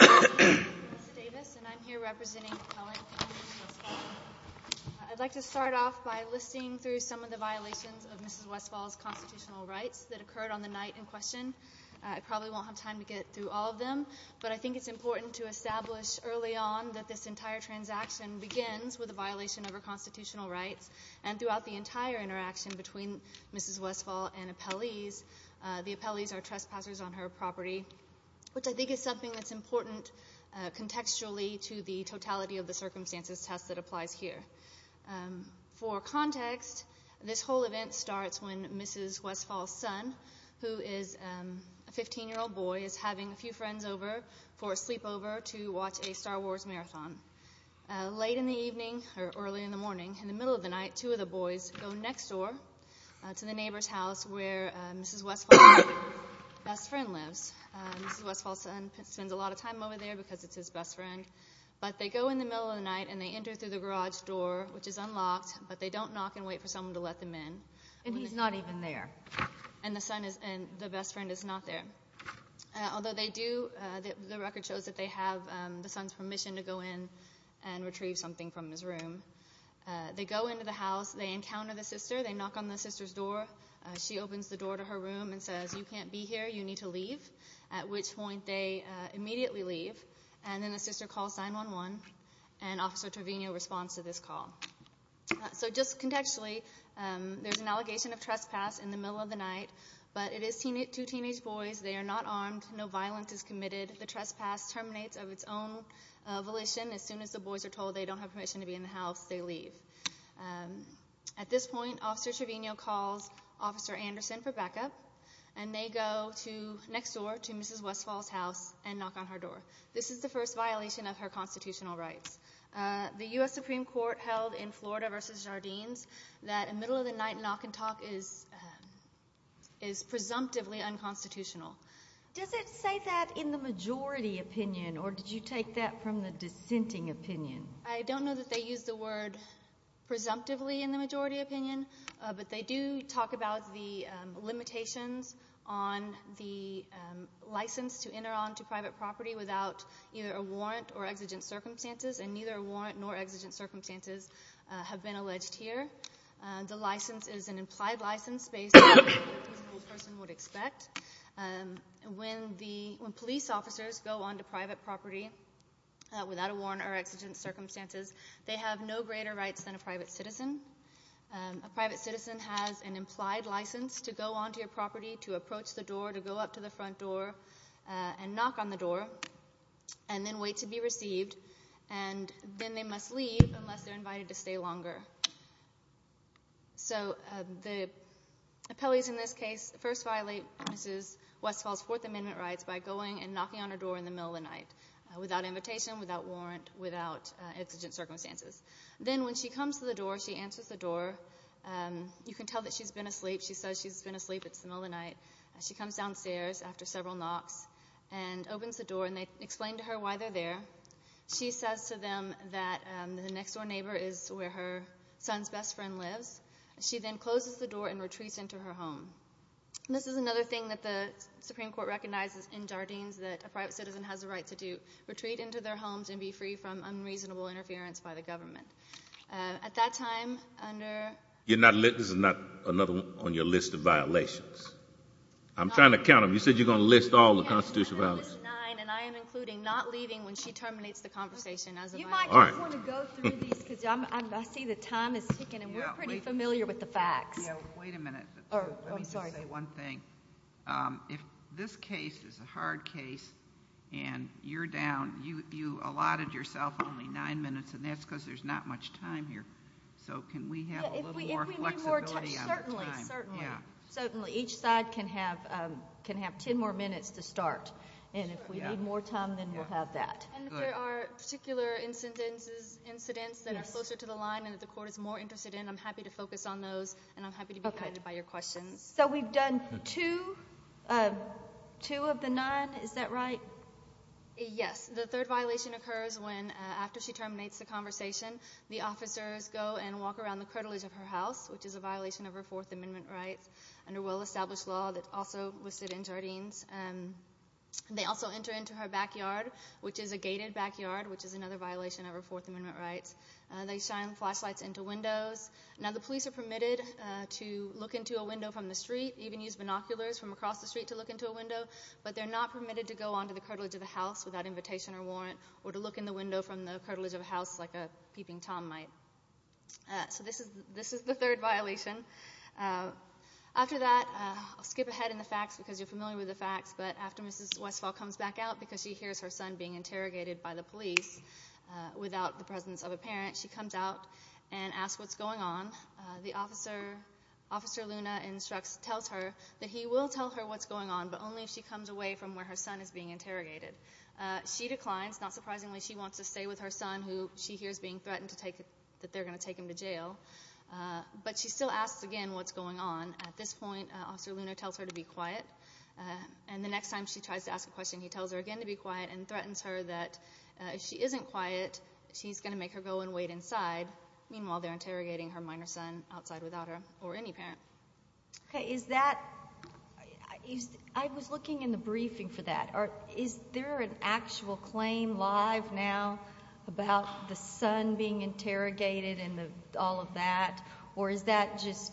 I'd like to start off by listing through some of the violations of Mrs. Westfall's constitutional rights that occurred on the night in question. I probably won't have time to get through all of them, but I think it's important to establish early on that this entire transaction begins with a violation of her constitutional rights. And throughout the entire interaction between Mrs. Westfall and the appellees, the appellees are trespassers on her property, which I think is something that's important contextually to the totality of the circumstances test that applies here. For context, this whole event starts when Mrs. Westfall's son, who is a 15-year-old boy, is having a few friends over for a sleepover to watch a Star Wars marathon. Late in the evening, or early in the morning, in the middle of the night, two of the boys go next door to the neighbor's house where Mrs. Westfall's best friend lives. Mrs. Westfall's son spends a lot of time over there because it's his best friend. But they go in the middle of the night and they enter through the garage door, which is unlocked, but they don't knock and wait for someone to let them in. And he's not even there. And the best friend is not there. Although the record shows that they have the son's permission to go in and retrieve something from his room. They go into the house. They encounter the sister. They knock on the sister's door. She opens the door to her room and says, you can't be here. You need to leave, at which point they immediately leave. And then the sister calls 911. And Officer Trevino responds to this call. So just contextually, there's an allegation of trespass in the middle of the night. But it is two teenage boys. They are not armed. No violence is committed. The trespass terminates of its own volition. As soon as the boys are told they don't have permission to be in the house, they leave. At this point, Officer Trevino calls Officer Anderson for backup. And they go next door to Mrs. Westfall's house and knock on her door. This is the first violation of her constitutional rights. The U.S. Supreme Court held in Florida v. Jardines that a middle-of-the-night knock-and-talk is presumptively unconstitutional. Does it say that in the majority opinion? Or did you take that from the dissenting opinion? I don't know that they use the word presumptively in the majority opinion. But they do talk about the limitations on the license to enter onto private property without either a warrant or exigent circumstances. And neither a warrant nor exigent circumstances have been alleged here. The license is an implied license based on what the person would expect. When police officers go onto private property without a warrant or exigent circumstances, they have no greater rights than a private citizen. A private citizen has an implied license to go onto your property, to approach the door, to go up to the front door, and knock on the door, and then wait to be received. And then they must leave unless they're invited to stay longer. So the appellees in this case first violate Mrs. Westfall's Fourth Amendment rights by going and knocking on her door in the middle of the night without invocation, without warrant, without exigent circumstances. Then when she comes to the door, she answers the door. You can tell that she's been asleep. She says she's been asleep. It's the middle of the night. She comes downstairs after several knocks and opens the door, and they explain to her why they're there. She says to them that the next-door neighbor is where her son's best friend lives. She then closes the door and retreats into her home. This is another thing that the Supreme Court recognized in Jardines, that a private citizen has a right to do, retreat into their homes and be free from unreasonable interference by the government. At that time, under – You're not – this is not another one on your list of violations. I'm trying to count them. You said you're going to list all the constitutional violations. And I am including not leaving when she terminates the conversation. You might just want to go through these, because I see the time is ticking, and we're pretty familiar with the facts. Wait a minute. Oh, sorry. Let me say one thing. If this case is a hard case and you're down, you allotted yourself only nine minutes, and that's because there's not much time here. So can we have a little more flexibility on our time? Certainly. Certainly. Each side can have ten more minutes to start. And if we need more time, then we'll have that. And if there are particular incidents that are closer to the line and that the court is more interested in, I'm happy to focus on those. And I'm happy to be guided by your questions. So we've done two of the nine. Is that right? Yes. The third violation occurs when, after she terminates the conversation, the officers go and walk around the cradles of her house, which is a violation of her Fourth Amendment rights under well-established law that's also listed in Jardines. They also enter into her backyard, which is a gated backyard, which is another violation of her Fourth Amendment rights. They shine flashlights into windows. Now, the police are permitted to look into a window from the street, even use binoculars from across the street to look into a window, but they're not permitted to go onto the cradles of the house without invitation or warrant or to look in the window from the cradles of the house like a peeping Tom might. So this is the third violation. After that, I'll skip ahead in the facts because you're familiar with the facts, but after Mrs. Westfall comes back out because she hears her son being interrogated by the police without the presence of a parent, she comes out and asks what's going on. The officer, Officer Luna, instructs, tells her that he will tell her what's going on, but only if she comes away from where her son is being interrogated. She declines. Not surprisingly, she wants to stay with her son, who she hears being threatened that they're going to take him to jail, but she still asks again what's going on. At this point, Officer Luna tells her to be quiet, and the next time she tries to ask a question, he tells her again to be quiet and threatens her that if she isn't quiet, he's going to make her go and wait inside, meanwhile they're interrogating her minor son outside without her or any parent. Okay. Is that ñ I was looking in the briefing for that. Is there an actual claim live now about the son being interrogated and all of that, or is that just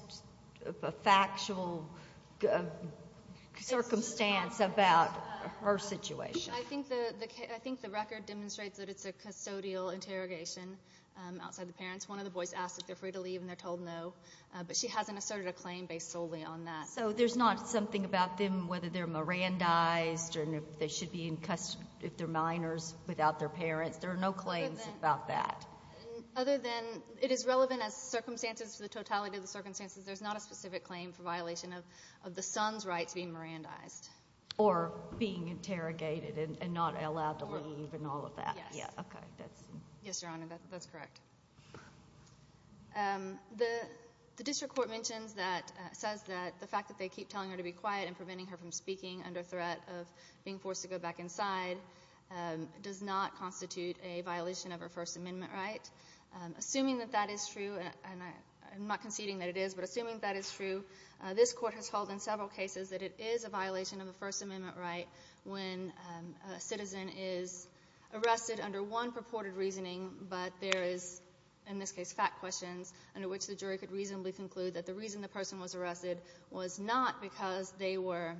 a factual circumstance about her situation? I think the record demonstrates that it's a custodial interrogation outside the parents. One of the boys asks if they're free to leave, and they're told no, but she hasn't asserted a claim based solely on that. So there's not something about them, whether they're Mirandized, or if they should be in custody with their minors without their parents. There are no claims about that. Other than it is relevant as circumstances to the totality of the circumstances, there's not a specific claim for violation of the son's right being Mirandized. Or being interrogated and not allowed to leave and all of that. Yeah. Yeah, okay. Yes, Your Honor, that's correct. The district court mentions that ñ says that the fact that they keep telling her to be quiet and preventing her from speaking under threat of being forced to go back inside does not constitute a violation of her First Amendment right. Assuming that that is true ñ I'm not conceding that it is, but assuming that is true, this court has told in several cases that it is a violation of the First Amendment right when a citizen is arrested under one purported reasoning, but there is, in this case, fact questions under which the jury could reasonably conclude that the reason the person was arrested was not because they were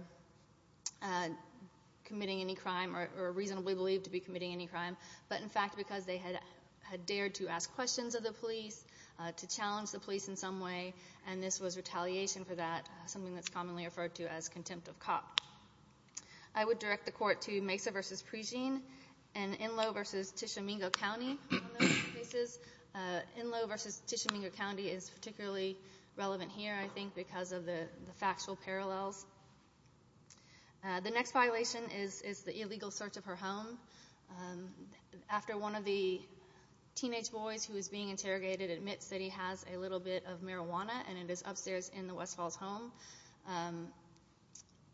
committing any crime or reasonably believed to be committing any crime, but in fact because they had dared to ask questions of the police, to challenge the police in some way, and this was retaliation for that, something that's commonly referred to as contempt of cop. I would direct the court to Mesa v. Prejean and Enloe v. Tishomingo County. Enloe v. Tishomingo County is particularly relevant here, I think, because of the factual parallels. The next violation is the illegal search of her home. After one of the teenage boys who was being interrogated admits that he has a little bit of marijuana and it is upstairs in the Westfalls' home,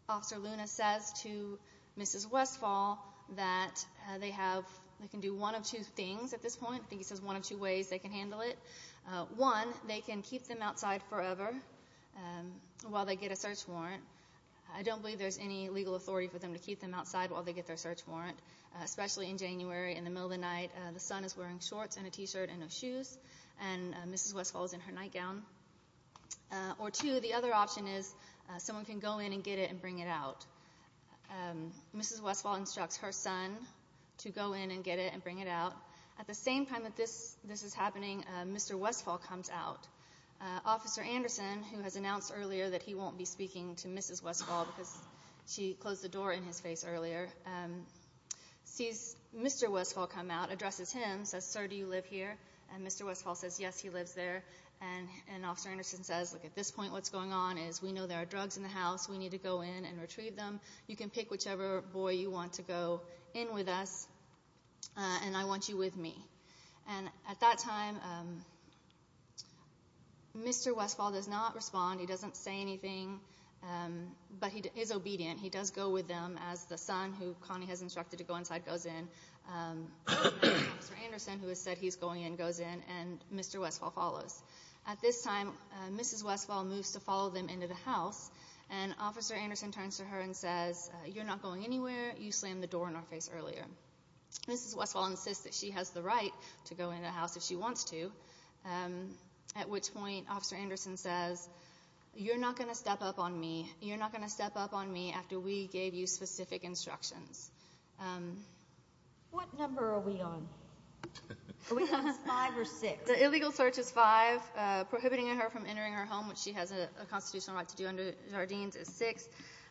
Dr. Luna says to Mrs. Westfall that they can do one of two things at this point. I think it's one of two ways they can handle it. One, they can keep them outside forever while they get a search warrant. I don't believe there's any legal authority for them to keep them outside while they get their search warrant, especially in January in the middle of the night. The son is wearing shorts and a T-shirt and a shoe, and Mrs. Westfall is in her nightgown. Or two, the other option is someone can go in and get it and bring it out. Mrs. Westfall instructs her son to go in and get it and bring it out. At the same time that this is happening, Mr. Westfall comes out. Officer Anderson, who has announced earlier that he won't be speaking to Mrs. Westfall because she closed the door in his face earlier, Mr. Westfall comes out, addresses him, says, Sir, do you live here? And Mr. Westfall says, Yes, he lives there. And Officer Anderson says, Look, at this point what's going on is we know there are drugs in the house. We need to go in and retrieve them. You can pick whichever boy you want to go in with us, and I want you with me. And at that time, Mr. Westfall does not respond. He doesn't say anything, but he is obedient. He does go with them as the son, who Connie has instructed to go inside, goes in. Officer Anderson, who has said he's going in, goes in, and Mr. Westfall follows. At this time, Mrs. Westfall moves to follow them into the house, and Officer Anderson turns to her and says, You're not going anywhere. You slammed the door in our face earlier. Mrs. Westfall insists that she has the right to go in the house if she wants to, at which point Officer Anderson says, You're not going to step up on me. You're not going to step up on me after we gave you specific instructions. What number are we on? Are we on a five or six? The illegal search is five. Prohibiting her from entering our home, which she has a constitutional right to do under Zardines, is six.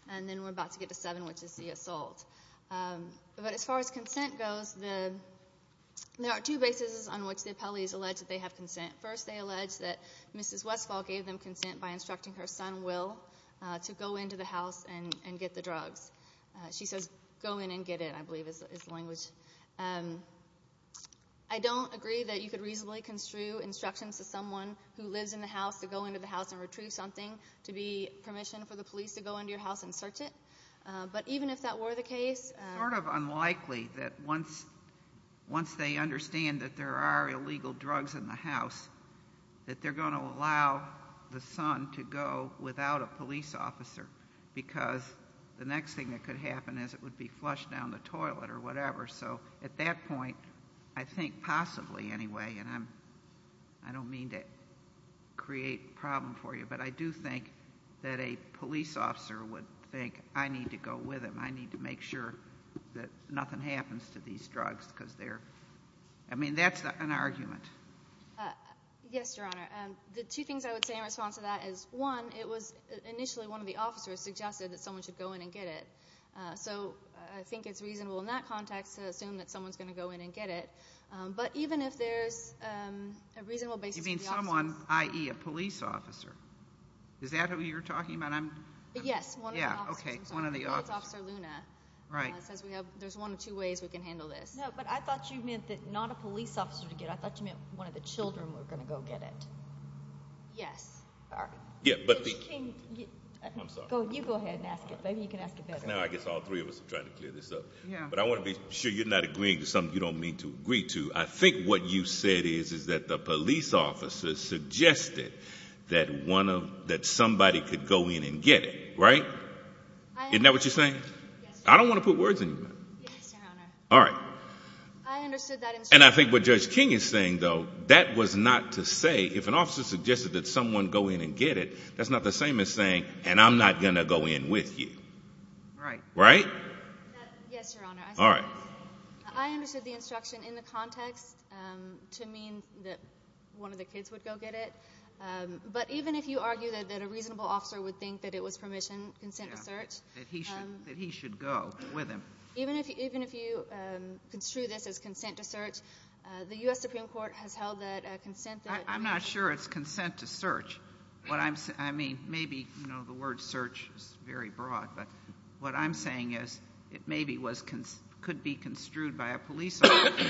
And then we're about to get to seven, which is the assault. But as far as consent goes, there are two bases on which the appellees allege that they have consent. First, they allege that Mrs. Westfall gave them consent by instructing her son, Will, to go into the house and get the drugs. She said, Go in and get it, I believe is the language. I don't agree that you could reasonably construe instructions to someone who lives in the house to go into the house and retrieve something to be permission for the police to go into your house and search it. But even if that were the case— It's sort of unlikely that once they understand that there are illegal drugs in the house, that they're going to allow the son to go without a police officer because the next thing that could happen is it would be flushed down the toilet or whatever. So at that point, I think possibly anyway, and I don't mean to create a problem for you, but I do think that a police officer would think, I need to go with him. I need to make sure that nothing happens to these drugs because they're—I mean, that's an argument. Yes, Your Honor. The two things I would say in response to that is, one, it was initially one of the officers suggested that someone should go in and get it. So I think it's reasonable in that context to assume that someone's going to go in and get it. But even if there's a reasonable basis— You mean someone, i.e., a police officer. Is that who you're talking about? Yes, one of the officers. Okay, one of the officers. Dr. Luna. Right. There's one of two ways we can handle this. No, but I thought you meant that not a police officer to get it. I thought you meant one of the children were going to go get it. Yes. Yeah, but— You go ahead and ask it. Maybe you can ask it better. No, I guess all three of us are trying to clear this up. But I want to be sure you're not agreeing to something you don't mean to agree to. I think what you said is that the police officer suggested that somebody could go in and get it, right? Isn't that what you're saying? Yes. I don't want to put words in your mouth. Yes, Your Honor. All right. I understood that instruction. And I think what Judge King is saying, though, that was not to say if an officer suggested that someone go in and get it, that's not the same as saying, and I'm not going to go in with you. Right. Right? Yes, Your Honor. All right. I understood the instruction in the context to mean that one of the kids would go get it. But even if you argue that a reasonable officer would think that it was permission, consent to search— That he should go with him. Even if you construe this as consent to search, the U.S. Supreme Court has held that consent to— I'm not sure it's consent to search. I mean, maybe, you know, the word search is very broad. But what I'm saying is it maybe could be construed by a police officer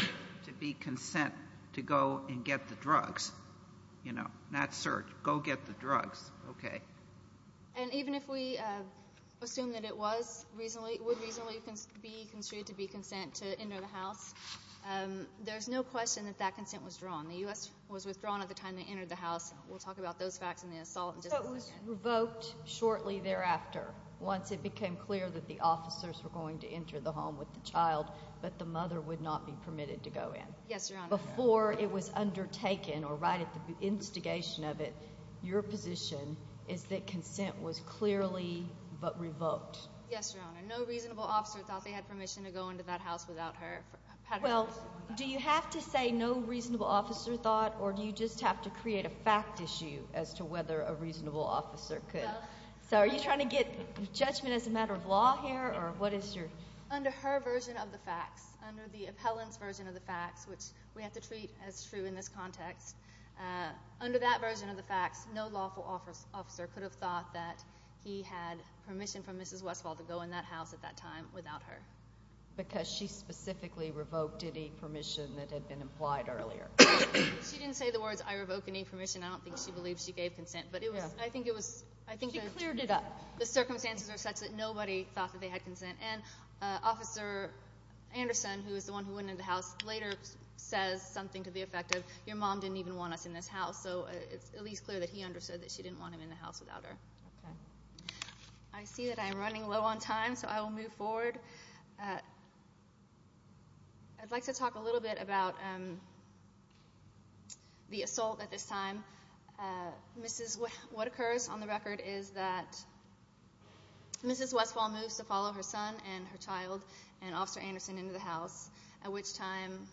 to be consent to go and get the drugs. You know, not search. Go get the drugs. Okay. And even if we assume that it was reasonably—would reasonably be construed to be consent to enter the house, there's no question that that consent was withdrawn. The U.S. was withdrawn at the time they entered the house. We'll talk about those facts in the assault. But it was revoked shortly thereafter, once it became clear that the officers were going to enter the home with the child, that the mother would not be permitted to go in. Yes, Your Honor. Before it was undertaken, or right at the instigation of it, your position is that consent was clearly but revoked. Yes, Your Honor. No reasonable officer thought they had permission to go into that house without her— Well, do you have to say no reasonable officer thought, or do you just have to create a fact issue as to whether a reasonable officer could? So are you trying to get judgment as a matter of law here, or what is your— Under her version of the facts, under the appellant's version of the facts, which we have to treat as true in this context, under that version of the facts, no lawful officer could have thought that he had permission for Mrs. Westphal to go in that house at that time without her. Because she specifically revoked any permission that had been implied earlier. She didn't say the words, I revoked any permission. I don't think she believed she gave consent. But I think it was— She cleared it up. The circumstances were such that nobody thought that they had consent. And Officer Anderson, who was the one who went into the house, later says something to the effect of, your mom didn't even want us in this house. So it's at least clear that he understood that she didn't want him in the house without her. I see that I am running low on time, so I will move forward. I'd like to talk a little bit about the assault at this time. Mrs. Westphal—what occurs on the record is that Mrs. Westphal moves to follow her son and her child and Officer Anderson into the house, at which time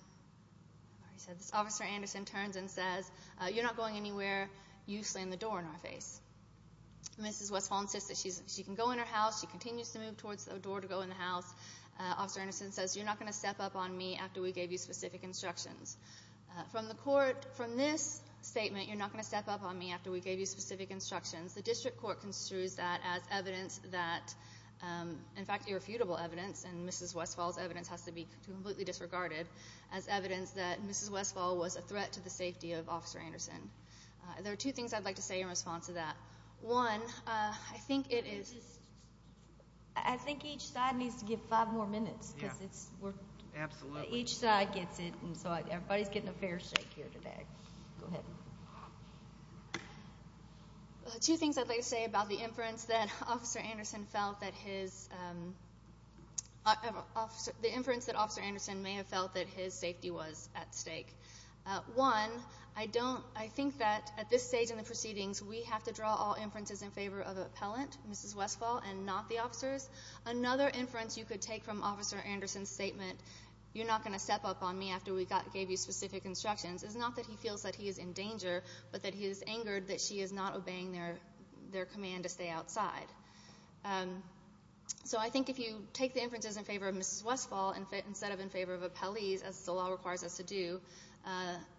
Officer Anderson turns and says, you're not going anywhere, you slam the door in our face. Mrs. Westphal insists that she can go in her house. She continues to move towards the door to go in the house. Officer Anderson says, you're not going to step up on me after we gave you specific instructions. From the court, from this statement, you're not going to step up on me after we gave you specific instructions. The district court construes that as evidence that—in fact, irrefutable evidence, and Mrs. Westphal's evidence has to be completely disregarded— as evidence that Mrs. Westphal was a threat to the safety of Officer Anderson. There are two things I'd like to say in response to that. One, I think it is—I think each side needs to give five more minutes. Yeah, absolutely. Each side gets it, and so everybody's getting a fair shake here today. Go ahead. Two things I'd like to say about the inference that Officer Anderson felt that his— the inference that Officer Anderson may have felt that his safety was at stake. One, I don't—I think that at this stage in the proceedings, we have to draw all inferences in favor of the appellant, Mrs. Westphal, and not the officers. Another inference you could take from Officer Anderson's statement, you're not going to step up on me after we gave you specific instructions, is not that he feels that he is in danger, but that he is angered that she is not obeying their command to stay outside. So I think if you take the inferences in favor of Mrs. Westphal instead of in favor of appellees, as the law requires us to do,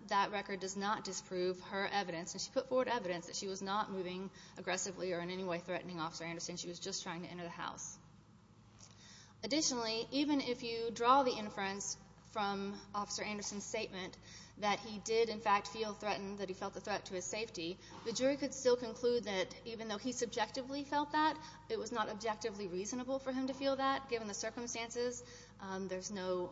that record does not disprove her evidence. And she put forward evidence that she was not moving aggressively or in any way threatening Officer Anderson. She was just trying to enter the house. Additionally, even if you draw the inference from Officer Anderson's statement that he did, in fact, feel threatened, that he felt a threat to his safety, the jury could still conclude that even though he subjectively felt that, it was not objectively reasonable for him to feel that, given the circumstances. There's no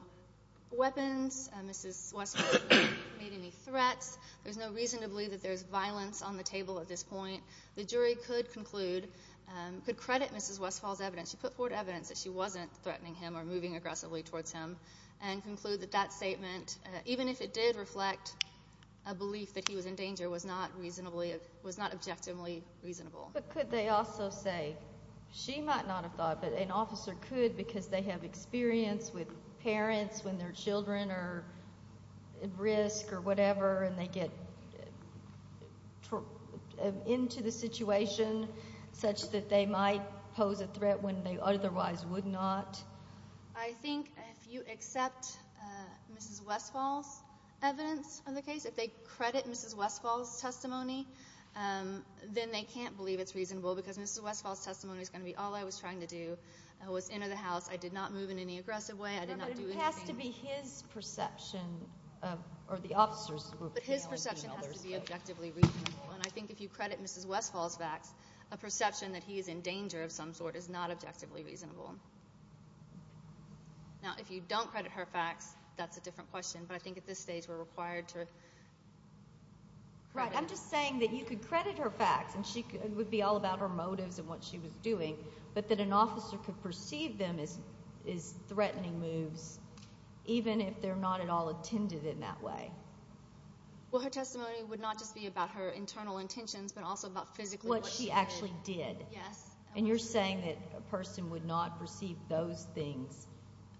weapons. Mrs. Westphal has not made any threats. There's no reason to believe that there's violence on the table at this point. The jury could conclude, could credit Mrs. Westphal's evidence, she put forward evidence that she wasn't threatening him or moving aggressively towards him, and conclude that that statement, even if it did reflect a belief that he was in danger, was not objectively reasonable. But could they also say, she might not have thought, but an officer could because they have experience with parents when their children are at risk or whatever, and they get into the situation such that they might pose a threat when they otherwise would not. I think if you accept Mrs. Westphal's evidence on the case, if they credit Mrs. Westphal's testimony, then they can't believe it's reasonable because Mrs. Westphal's testimony is going to be all I was trying to do was enter the house. I did not move in any aggressive way. But it has to be his perception, or the officer's perception. But his perception has to be objectively reasonable, and I think if you credit Mrs. Westphal's facts, a perception that he is in danger of some sort is not objectively reasonable. Now, if you don't credit her facts, that's a different question, but I think at this stage we're required to. Right. I'm just saying that you could credit her facts, and it would be all about her motives and what she was doing, but that an officer could perceive them as threatening moves even if they're not at all intended in that way. Well, her testimony would not just be about her internal intentions, but also about physically what she did. What she actually did. Yes. And you're saying that a person would not perceive those things,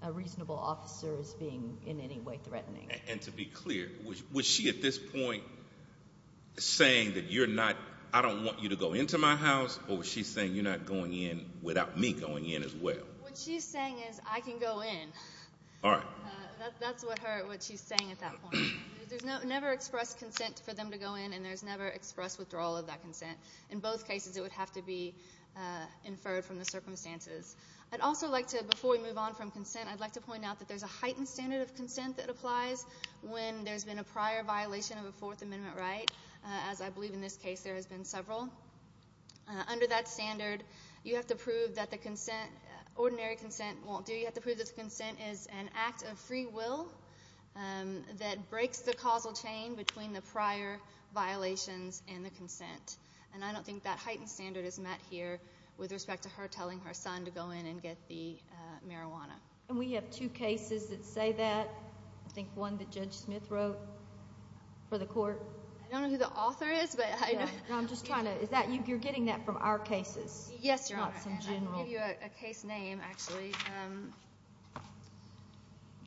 a reasonable officer as being in any way threatening. And to be clear, was she at this point saying that you're not, I don't want you to go into my house, or was she saying you're not going in without me going in as well? What she's saying is I can go in. All right. That's what she's saying at that point. There's never expressed consent for them to go in, and there's never expressed withdrawal of that consent. In both cases, it would have to be inferred from the circumstances. I'd also like to, before we move on from consent, I'd like to point out that there's a heightened standard of consent that applies when there's been a prior violation of a Fourth Amendment right, as I believe in this case there has been several. Under that standard, you have to prove that the consent, ordinary consent won't do. You have to prove that consent is an act of free will that breaks the causal chain between the prior violations and the consent. And I don't think that heightened standard is met here with respect to her telling her son to go in and get the marijuana. And we have two cases that say that. I think one that Judge Smith wrote for the court. I don't know who the author is. I'm just trying to. You're getting that from our cases? Yes, Your Honor. I'll give you a case name, actually.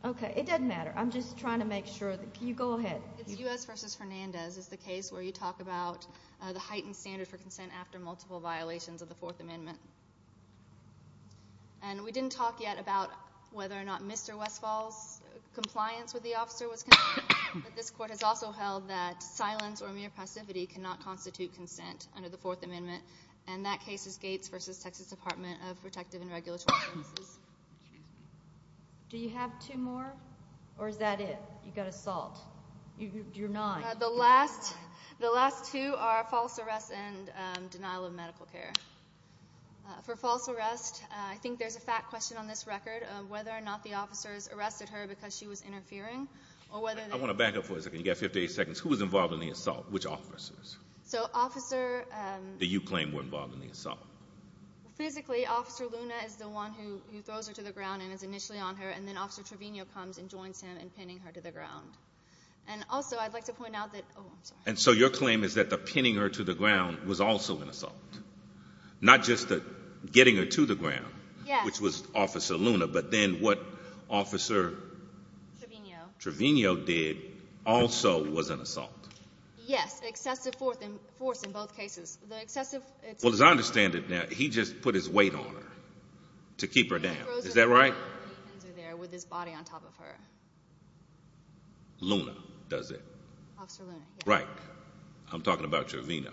Okay. It doesn't matter. I'm just trying to make sure. You go ahead. If you do ask Justice Hernandez, it's the case where you talk about the heightened standard for consent after multiple violations of the Fourth Amendment. And we didn't talk yet about whether or not Mr. Westphal's compliance with the officer was consistent, but this court has also held that silence or mere passivity cannot constitute consent under the Fourth Amendment. And that case is Gates v. Texas Department of Protective and Regulatory Services. Do you have two more? Or is that it? You've got a fault. You're nine. The last two are false arrest and denial of medical care. For false arrest, I think there's a fact question on this record of whether or not the officers arrested her because she was interfering. I want to back up for a second. You've got 58 seconds. Who was involved in the assault? Which officers? The officer that you claim was involved in the assault. Specifically, Officer Luna is the one who throws her to the ground and is initially on her, and then Officer Trevino comes and joins him in pinning her to the ground. And also, I'd like to point out that... And so your claim is that the pinning her to the ground was also an assault, not just the getting her to the ground, which was Officer Luna, but then what Officer Trevino did also was an assault. Yes, the excessive force in both cases. Well, as I understand it now, he just put his weight on her to keep her down. Is that right? With his body on top of her. Luna does it. Officer Luna, yes. Right. I'm talking about Trevino.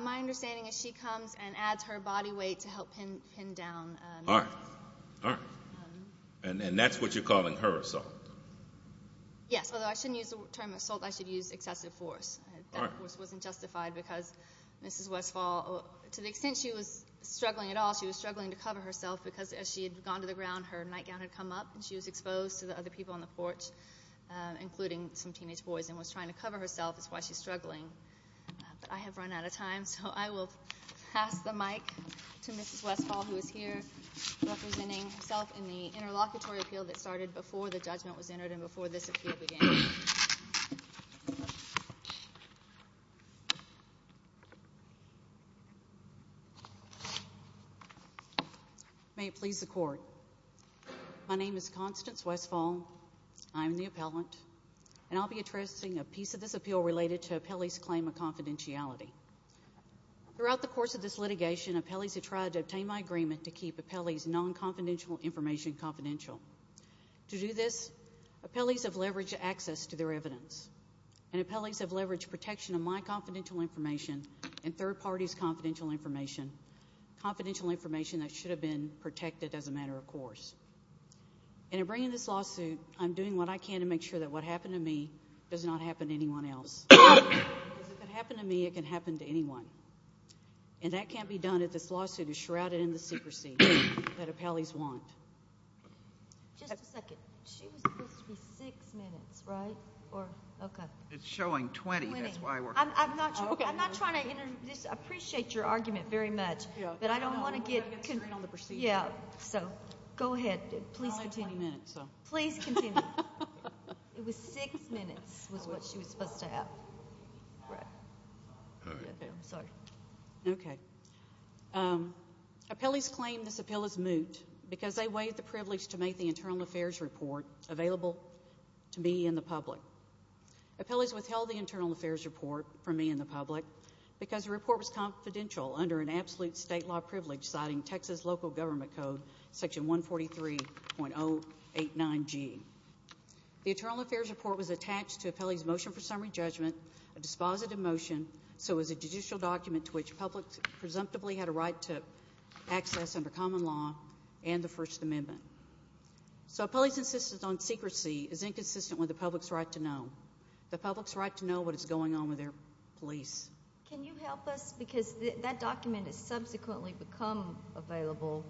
My understanding is she comes and adds her body weight to help pin him down. All right. All right. And that's what you're calling her assault. Yes, although I shouldn't use the term assault. I should use excessive force. That wasn't justified because Mrs. Westphal, to the extent she was struggling at all, she was struggling to cover herself because as she had gone to the ground, her nightgown had come up and she was exposed to the other people on the porch, including some teenage boys, and was trying to cover herself. That's why she's struggling. I have run out of time, so I will pass the mic to Mrs. Westphal, who is here, representing herself in the interlocutory appeal that started before the judgment was entered and before this appeal began. May it please the Court. My name is Constance Westphal. I am the appellant, and I'll be addressing a piece of this appeal related to appellees' claim of confidentiality. Throughout the course of this litigation, appellees have tried to obtain my agreement to keep appellees' non-confidential information confidential. To do this, appellees have leveraged access to their evidence, and appellees have leveraged protection of my confidential information and third parties' confidential information, confidential information that should have been protected as a matter of course. In bringing this lawsuit, I'm doing what I can to make sure that what happened to me does not happen to anyone else. Because if it happened to me, it can happen to anyone. And that can't be done if this lawsuit is shrouded in the secrecy that appellees want. Just a second. Two, three, six minutes, right? Or, okay. It's showing 20. I'm not trying to, I appreciate your argument very much, but I don't want to give, yeah. So, go ahead. Please continue. Please continue. It was six minutes was what she was supposed to have. Okay. Appellees claim this appeal is moot because they waived the privilege to make the internal affairs report available to be in the public. Appellees withheld the internal affairs report from me and the public because the report was confidential under an absolute state law privilege citing Texas local government code section 143.089G. The internal affairs report was attached to appellees' motion for summary judgment, a dispositive motion, so it was a judicial document to which publics presumptively had a right to access under common law and the First Amendment. So, appellees' insistence on secrecy is inconsistent with the public's right to know. The public's right to know what is going on with their police. Can you help us? Because that document has subsequently become available.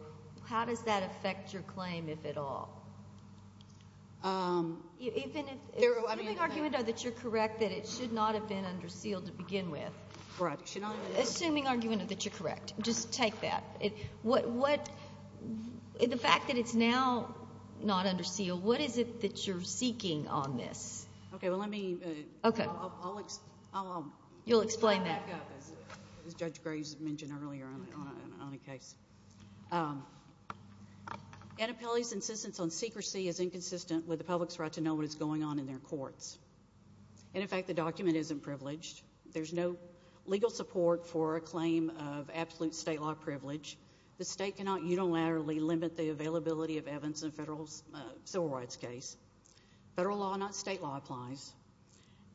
How does that affect your claim, if at all? Isn't it an argument that you're correct that it should not have been under seal to begin with? Right. Assuming argument that you're correct. Just take that. The fact that it's now not under seal, what is it that you're seeking on this? Okay, well, let me... Okay. You'll explain that. An appellee's insistence on secrecy is inconsistent with the public's right to know what is going on in their courts. And, in fact, the document isn't privileged. There's no legal support for a claim of absolute state law privilege. The state cannot unilaterally limit the availability of evidence in a federal civil rights case. Federal law, not state law, applies.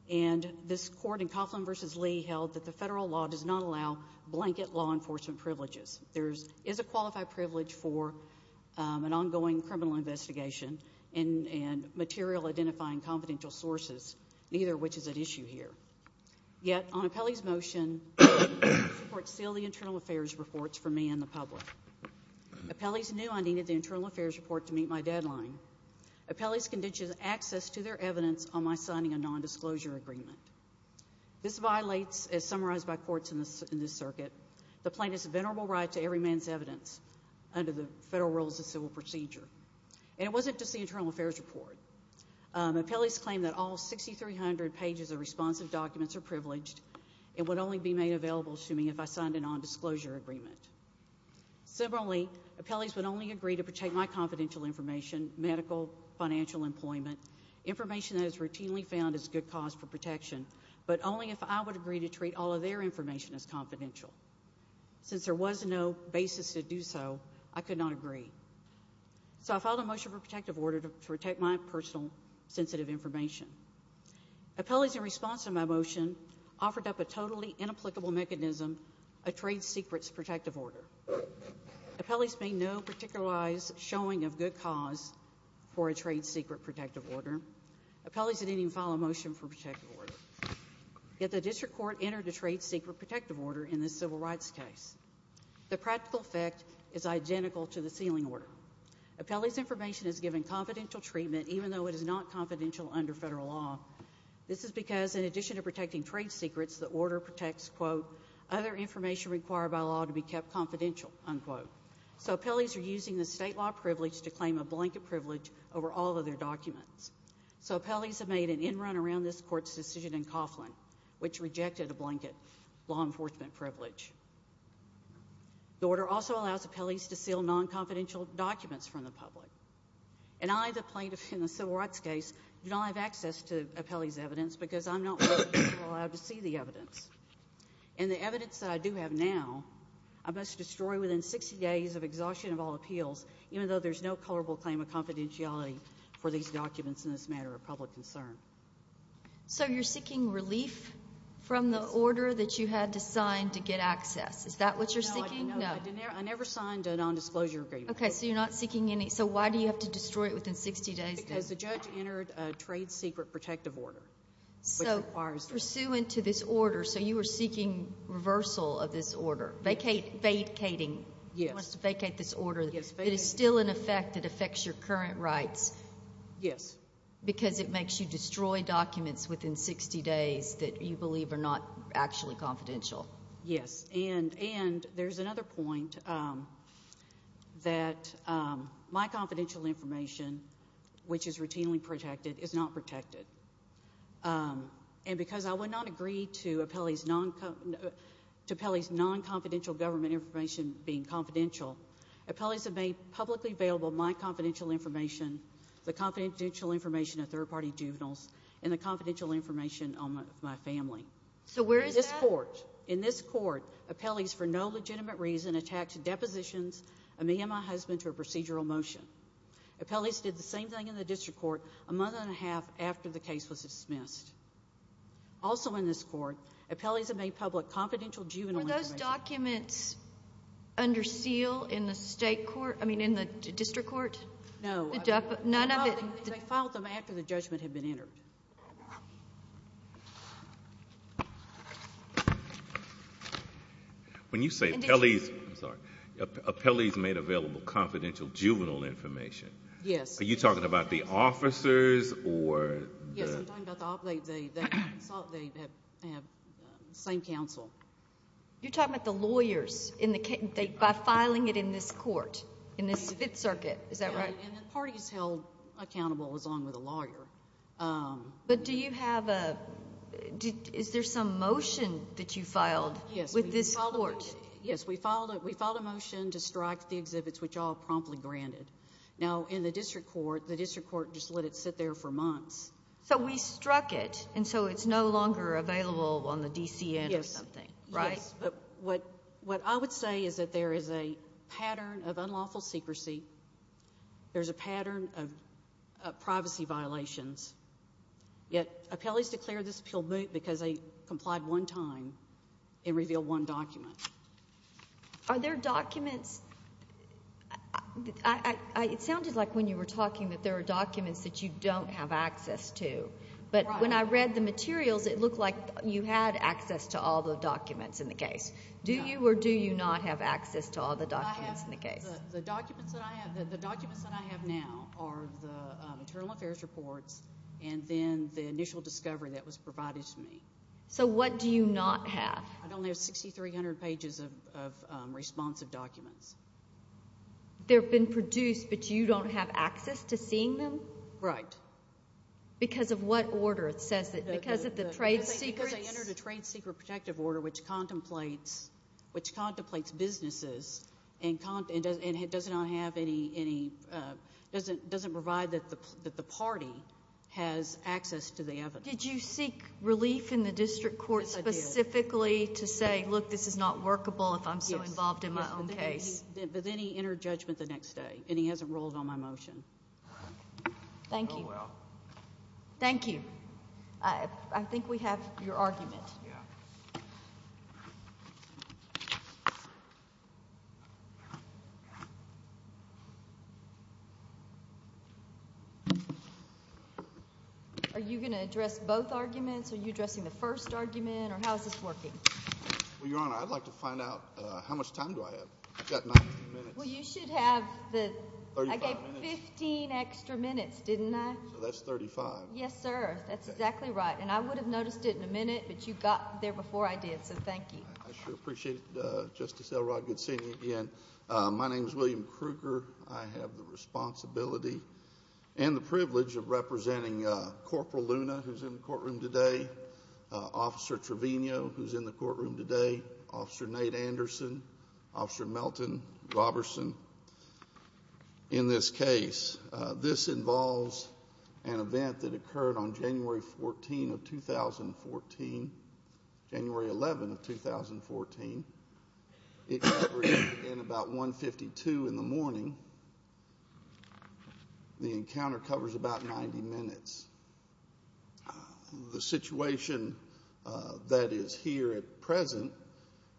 And this court in Coughlin v. Lee held that the federal law does not allow blanket law enforcement privileges. There is a qualified privilege for an ongoing criminal investigation and material identifying confidential sources, neither of which is at issue here. Yet, on an appellee's motion, the court sealed the internal affairs reports for me and the public. Appellees knew I needed the internal affairs report to meet my deadline. Appellees conditioned access to their evidence on my signing a nondisclosure agreement. This violates, as summarized by courts in this circuit, the plaintiff's venerable right to every man's evidence under the Federal Rules of Civil Procedure. And it wasn't just the internal affairs report. Appellees claim that all 6,300 pages of responsive documents are privileged and would only be made available to me if I signed a nondisclosure agreement. Similarly, appellees would only agree to protect my confidential information, medical, financial, employment, information that is routinely found as a good cause for protection, but only if I would agree to treat all of their information as confidential. Since there was no basis to do so, I could not agree. So I filed a motion for protective order to protect my personal sensitive information. Appellees in response to my motion offered up a totally inapplicable mechanism, a trade secret protective order. Appellees made no particularized showing of good cause for a trade secret protective order. Appellees did not even file a motion for protective order. Yet the district court entered a trade secret protective order in this civil rights case. The practical effect is identical to the sealing order. Appellees' information is given confidential treatment even though it is not confidential under federal law. This is because in addition to protecting trade secrets, the order protects, quote, other information required by law to be kept confidential, unquote. So appellees are using the state law privilege to claim a blanket privilege over all of their documents. So appellees have made an in-run around this court's decision in Coughlin, which rejected a blanket law enforcement privilege. The order also allows appellees to seal non-confidential documents from the public. And I, the plaintiff in the civil rights case, do not have access to appellees' evidence because I'm not allowed to see the evidence. And the evidence that I do have now I must destroy within 60 days of exhaustion of all appeals, even though there's no colorable claim of confidentiality for these documents in this matter of public concern. So you're seeking relief from the order that you had to sign to get access. Is that what you're seeking? No. I never signed a non-disclosure agreement. Okay. So you're not seeking any. So why do you have to destroy it within 60 days? Because the judge entered a trade secret protective order. So pursuant to this order, so you were seeking reversal of this order. Vacating. Yes. You want us to vacate this order. Yes. But it's still in effect. It affects your current rights. Yes. Because it makes you destroy documents within 60 days that you believe are not actually confidential. Yes. And there's another point that my confidential information, which is routinely protected, is not protected. And because I would not agree to appellees' non-confidential government information being confidential, appellees have made publicly available my confidential information, the confidential information of third-party juveniles, and the confidential information on my family. So where is that? In this court. In this court, appellees for no legitimate reason attached depositions of me and my husband to a procedural motion. Appellees did the same thing in the district court a month and a half after the case was dismissed. Also in this court, appellees have made public confidential juvenile information. Are those documents under seal in the state court, I mean, in the district court? No. None of it? No. They filed them after the judgment had been entered. When you say appellees made available confidential juvenile information, are you talking about the officers or the? I'm talking about the appellees that claim counsel. You're talking about the lawyers, by filing it in this court, in the Fifth Circuit. Is that right? And the parties held accountable is on with the lawyer. But do you have a, is there some motion that you filed with this court? Yes, we filed a motion to strike the exhibits which are promptly granted. Now, in the district court, the district court just let it sit there for months. So we struck it, and so it's no longer available on the DCN or something, right? Yes. But what I would say is that there is a pattern of unlawful secrecy. There's a pattern of privacy violations. Yet, appellees declared this till moot because they complied one time and revealed one document. Are there documents? It sounded like when you were talking that there are documents that you don't have access to. But when I read the materials, it looked like you had access to all the documents in the case. Do you or do you not have access to all the documents in the case? The documents that I have now are the maternal affairs report and then the initial discovery that was provided to me. So what do you not have? I don't have 6,300 pages of responsive documents. They've been produced, but you don't have access to seeing them? Right. Because of what order? Because of the trade secret? Because I entered a trade secret protective order which contemplates businesses and doesn't provide that the party has access to the evidence. Did you seek relief in the district court specifically to say, look, this is not workable if I'm so involved in my own case? Then he entered judgment the next day and he hasn't ruled on my motion. Thank you. Thank you. I think we have your argument. Are you going to address both arguments? Are you addressing the first argument or how is this working? Your Honor, I'd like to find out how much time do I have? I've got 90 minutes. Well, you should have I guess 15 extra minutes, didn't I? That's 35. Yes, sir. That's exactly right. And I would have noticed it in a minute that you got there before I did, so thank you. I sure appreciate it, Justice Elrod. Good seeing you again. My name is William Krueger. I have the responsibility and the privilege of representing Corporal Luna, who's in the courtroom today, Officer Trevino, who's in the courtroom today, Officer Nate Anderson, Officer Melton Robertson. In this case, this involves an event that occurred on January 14 of 2014, January 11 of 2014. It occurred at about 152 in the morning. The encounter covers about 90 minutes. The situation that is here at present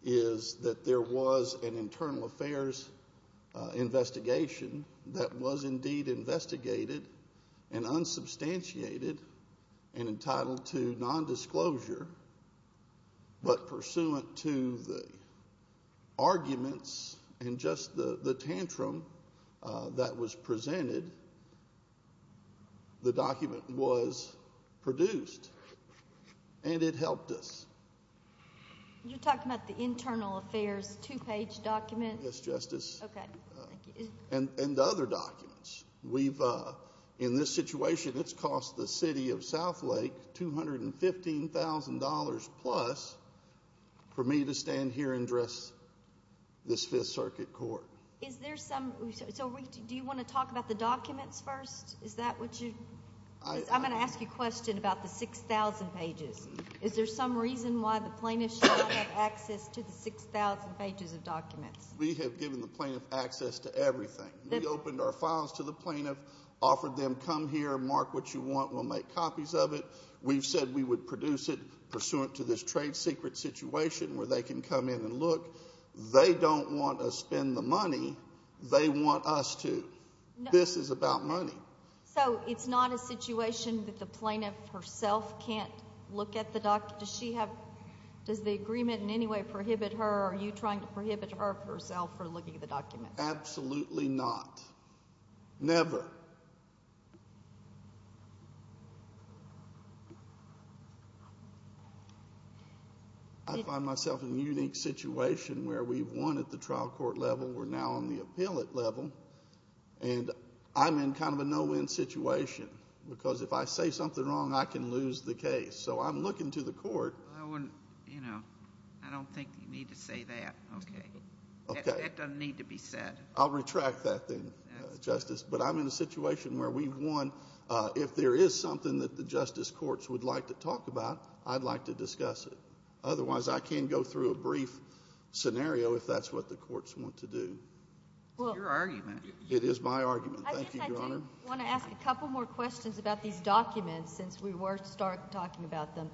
is that there was an internal affairs investigation that was indeed investigated and unsubstantiated and entitled to nondisclosure, but pursuant to the arguments and just the tantrum that was presented, the document was produced, and it helped us. You're talking about the internal affairs two-page document? Yes, Justice. Okay. And the other documents. In this situation, it's cost the City of Southlake $215,000 plus for me to stand here and address this Fifth Circuit Court. Do you want to talk about the documents first? I'm going to ask you a question about the 6,000 pages. Is there some reason why the plaintiff shouldn't have access to the 6,000 pages of documents? We have given the plaintiff access to everything. We opened our files to the plaintiff, offered them, come here, mark what you want. We'll make copies of it. We said we would produce it pursuant to this trade secret situation where they can come in and look. They don't want to spend the money. They want us to. This is about money. So it's not a situation that the plaintiff herself can't look at the documents? Does the agreement in any way prohibit her or are you trying to prohibit her herself from looking at the documents? Absolutely not. Never. I find myself in a unique situation where we've won at the trial court level. We're now on the appellate level. And I'm in kind of a no-win situation because if I say something wrong, I can lose the case. So I'm looking to the court. I don't think you need to say that. That doesn't need to be said. I'll retract that thing, Justice. But I'm in a situation where we've won. If there is something that the justice courts would like to talk about, I'd like to discuss it. Otherwise, I can't go through a brief scenario if that's what the courts want to do. Your argument. It is my argument. Thank you, Your Honor. I just want to ask a couple more questions about these documents since we were talking about them.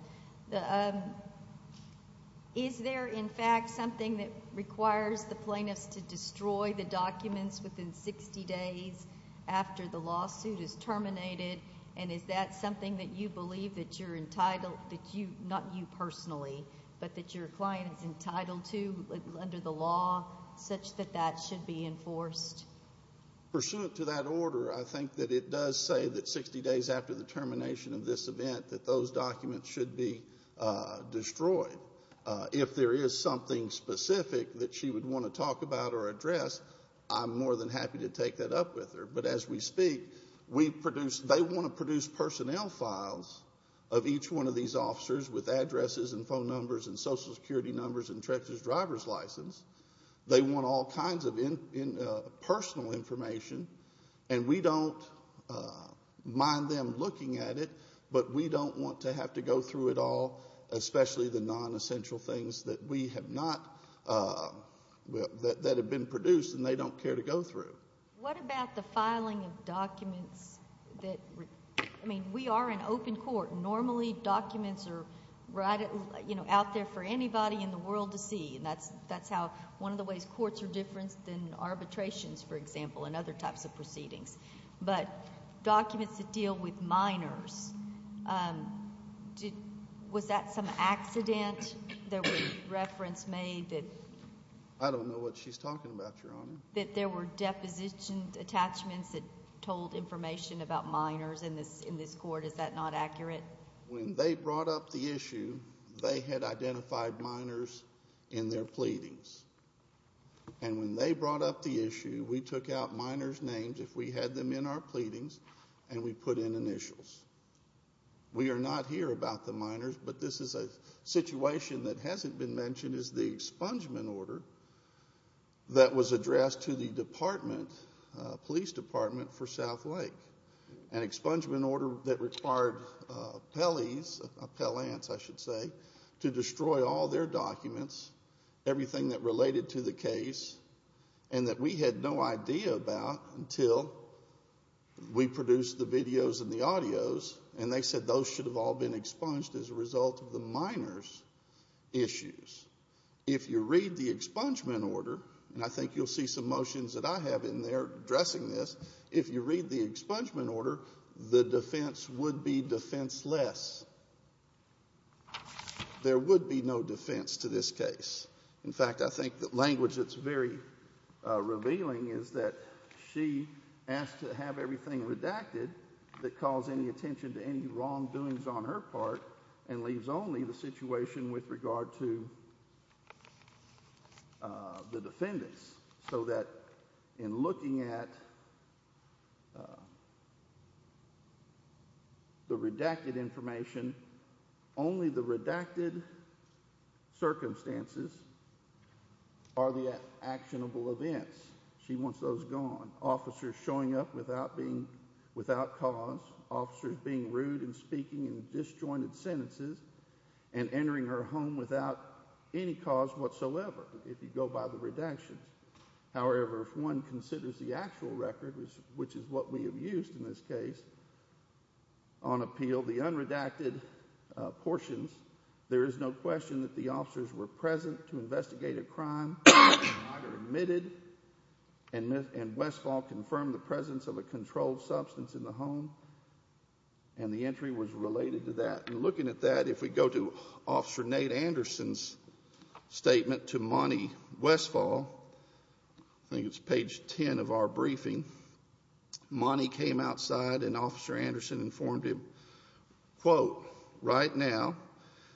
Is there, in fact, something that requires the plaintiff to destroy the documents within 60 days after the lawsuit is terminated? And is that something that you believe that you're entitled to, not you personally, but that your client is entitled to under the law such that that should be enforced? Pursuant to that order, I think that it does say that 60 days after the termination of this event that those documents should be destroyed. If there is something specific that she would want to talk about or address, I'm more than happy to take that up with her. But as we speak, they want to produce personnel files of each one of these officers with addresses and phone numbers and Social Security numbers and Texas driver's license. They want all kinds of personal information, and we don't mind them looking at it, but we don't want to have to go through it all, especially the nonessential things that have been produced and they don't care to go through. What about the filing of documents? I mean, we are an open court, and normally documents are out there for anybody in the world to see, and that's one of the ways courts are different than arbitrations, for example, and other types of proceedings. But documents that deal with minors, was that some accident that was reference made? I don't know what she's talking about, Your Honor. That there were deposition attachments that told information about minors in this court, is that not accurate? When they brought up the issue, they had identified minors in their pleadings, and when they brought up the issue, we took out minors' names if we had them in our pleadings, and we put in initials. We are not here about the minors, but this is a situation that hasn't been mentioned, is the expungement order that was addressed to the department, police department for South Lake, an expungement order that required appellees, appellants I should say, to destroy all their documents, everything that related to the case, and that we had no idea about until we produced the videos and the audios, and they said those should have all been expunged as a result of the minors' issues. If you read the expungement order, and I think you'll see some motions that I have in there addressing this, if you read the expungement order, the defense would be defenseless. There would be no defense to this case. In fact, I think the language that's very revealing is that she has to have everything redacted that calls any attention to any wrongdoings on her part and leaves only the situation with regard to the defendants, so that in looking at the redacted information, only the redacted circumstances are the actionable events. She wants those gone. Officers showing up without cause, officers being rude and speaking in disjointed sentences, and entering her home without any cause whatsoever if you go by the redaction. However, if one considers the actual record, which is what we have used in this case on appeal, the unredacted portions, there is no question that the officers were present to investigate a crime, were admitted, and best of all confirmed the presence of a controlled substance in the home, and the entry was related to that. And looking at that, if we go to Officer Nate Anderson's statement to Monty Westfall, I think it's page 10 of our briefing, Monty came outside and Officer Anderson informed him, quote, right now,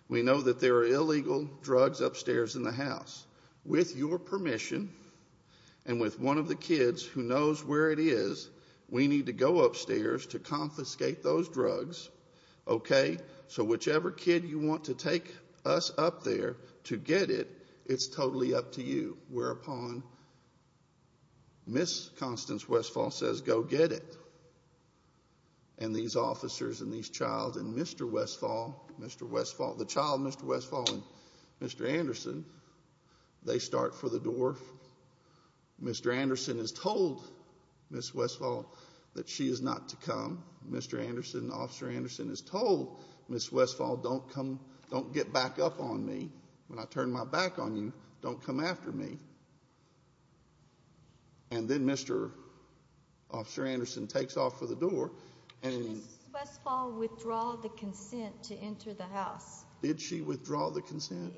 we know that there are illegal drugs upstairs in the house. With your permission, and with one of the kids who knows where it is, we need to go upstairs to confiscate those drugs, okay? So whichever kid you want to take us up there to get it, it's totally up to you. Whereupon Miss Constance Westfall says, go get it. And these officers and these child and Mr. Westfall, Mr. Westfall, the child Mr. Westfall and Mr. Anderson, they start for the door. Mr. Anderson has told Miss Westfall that she is not to come. Mr. Anderson, Officer Anderson has told Miss Westfall, don't come, don't get back up on me. When I turn my back on you, don't come after me. And then Mr. Officer Anderson takes off for the door and Westfall withdraw the consent to enter the house. Did she withdraw the consent?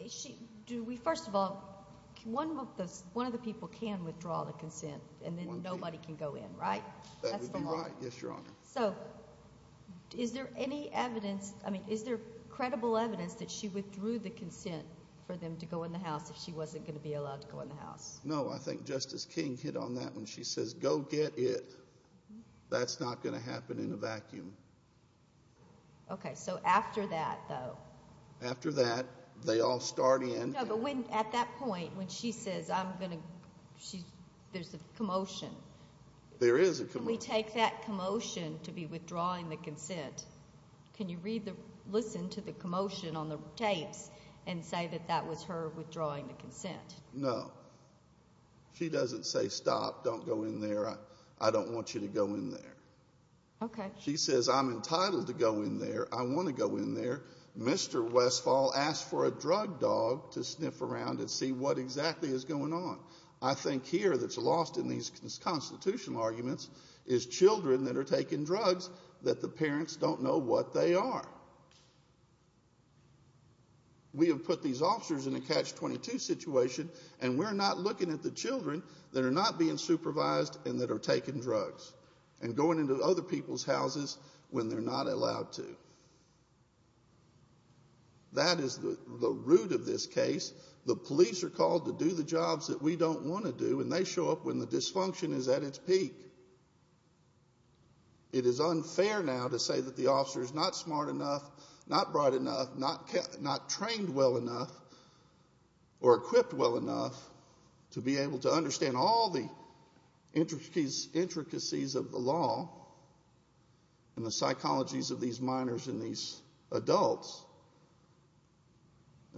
Do we, first of all, one of the people can withdraw the consent and then nobody can go in, right? That would be right, yes, Your Honor. So is there any evidence, I mean, is there credible evidence that she withdrew the consent for them to go in the house, that she wasn't going to be allowed to go in the house? No, I think Justice King hit on that when she says, go get it. That's not going to happen in a vacuum. Okay, so after that, though? After that, they all start in. No, but at that point when she says, I'm going to, there's a commotion. There is a commotion. We take that commotion to be withdrawing the consent. Can you read the, listen to the commotion on the tape and say that that was her withdrawing the consent? No, she doesn't say, stop, don't go in there, I don't want you to go in there. Okay. She says, I'm entitled to go in there, I want to go in there. Mr. Westphal asked for a drug dog to sniff around and see what exactly is going on. I think here that's lost in these constitutional arguments is children that are taking drugs that the parents don't know what they are. We have put these officers in a catch-22 situation, and we're not looking at the children that are not being supervised and that are taking drugs. And going into other people's houses when they're not allowed to. That is the root of this case. The police are called to do the jobs that we don't want to do, and they show up when the dysfunction is at its peak. It is unfair now to say that the officer is not smart enough, not bright enough, not trained well enough, or equipped well enough to be able to understand all the intricacies of the law and the psychologies of these minors and these adults,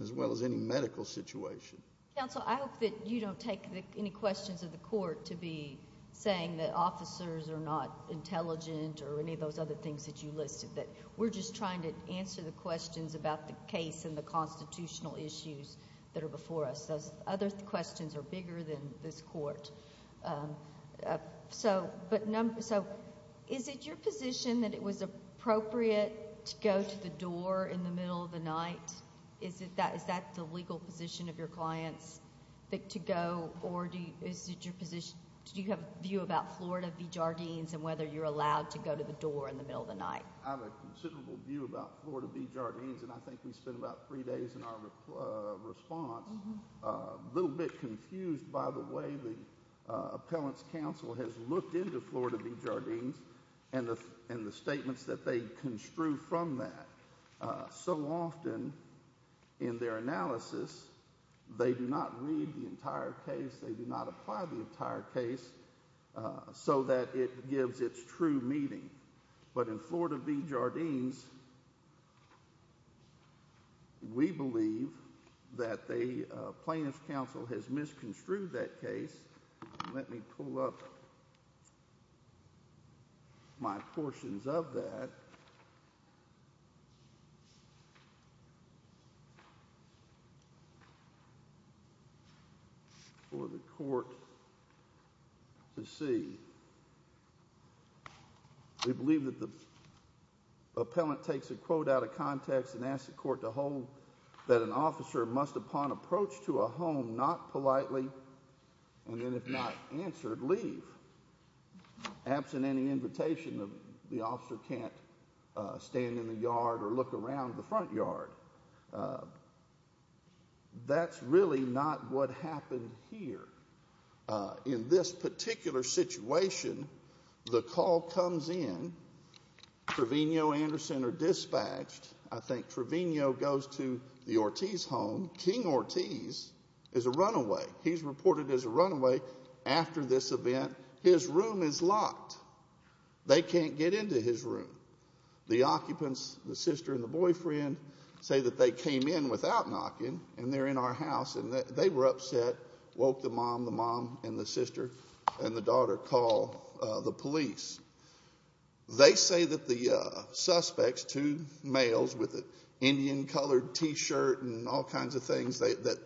as well as any medical situation. Counsel, I hope that you don't take any questions of the court to be saying that officers are not intelligent or any of those other things that you looked at. We're just trying to answer the questions about the case and the constitutional issues that are before us. The other questions are bigger than this court. So, is it your position that it was appropriate to go to the door in the middle of the night? Is that the legal position of your client to go, or do you have a view about Florida v. Jardines and whether you're allowed to go to the door in the middle of the night? I have a considerable view about Florida v. Jardines, and I think we've spent about three days in our response. A little bit confused by the way the appellant's counsel has looked into Florida v. Jardines and the statements that they construe from that. So often, in their analysis, they do not read the entire case. They do not apply the entire case so that it gives its true meaning. But in Florida v. Jardines, we believe that the plaintiff's counsel has misconstrued that case. Let me pull up my portions of that for the court to see. We believe that the appellant takes a quote out of context and asks the court to hold that an officer must, upon approach to a home, not politely, and then if not answered, leave. Absent any invitation, the officer can't stand in the yard or look around the front yard. That's really not what happened here. In this particular situation, the call comes in. Trevino, Anderson are dispatched. I think Trevino goes to the Ortiz home. King Ortiz is a runaway. He's reported as a runaway after this event. His room is locked. They can't get into his room. The occupants, the sister and the boyfriend, say that they came in without knocking, and they're in our house, and they were upset, woke the mom, the mom and the sister and the daughter, called the police. They say that the suspects, two males with the Indian-colored T-shirt and all kinds of things, that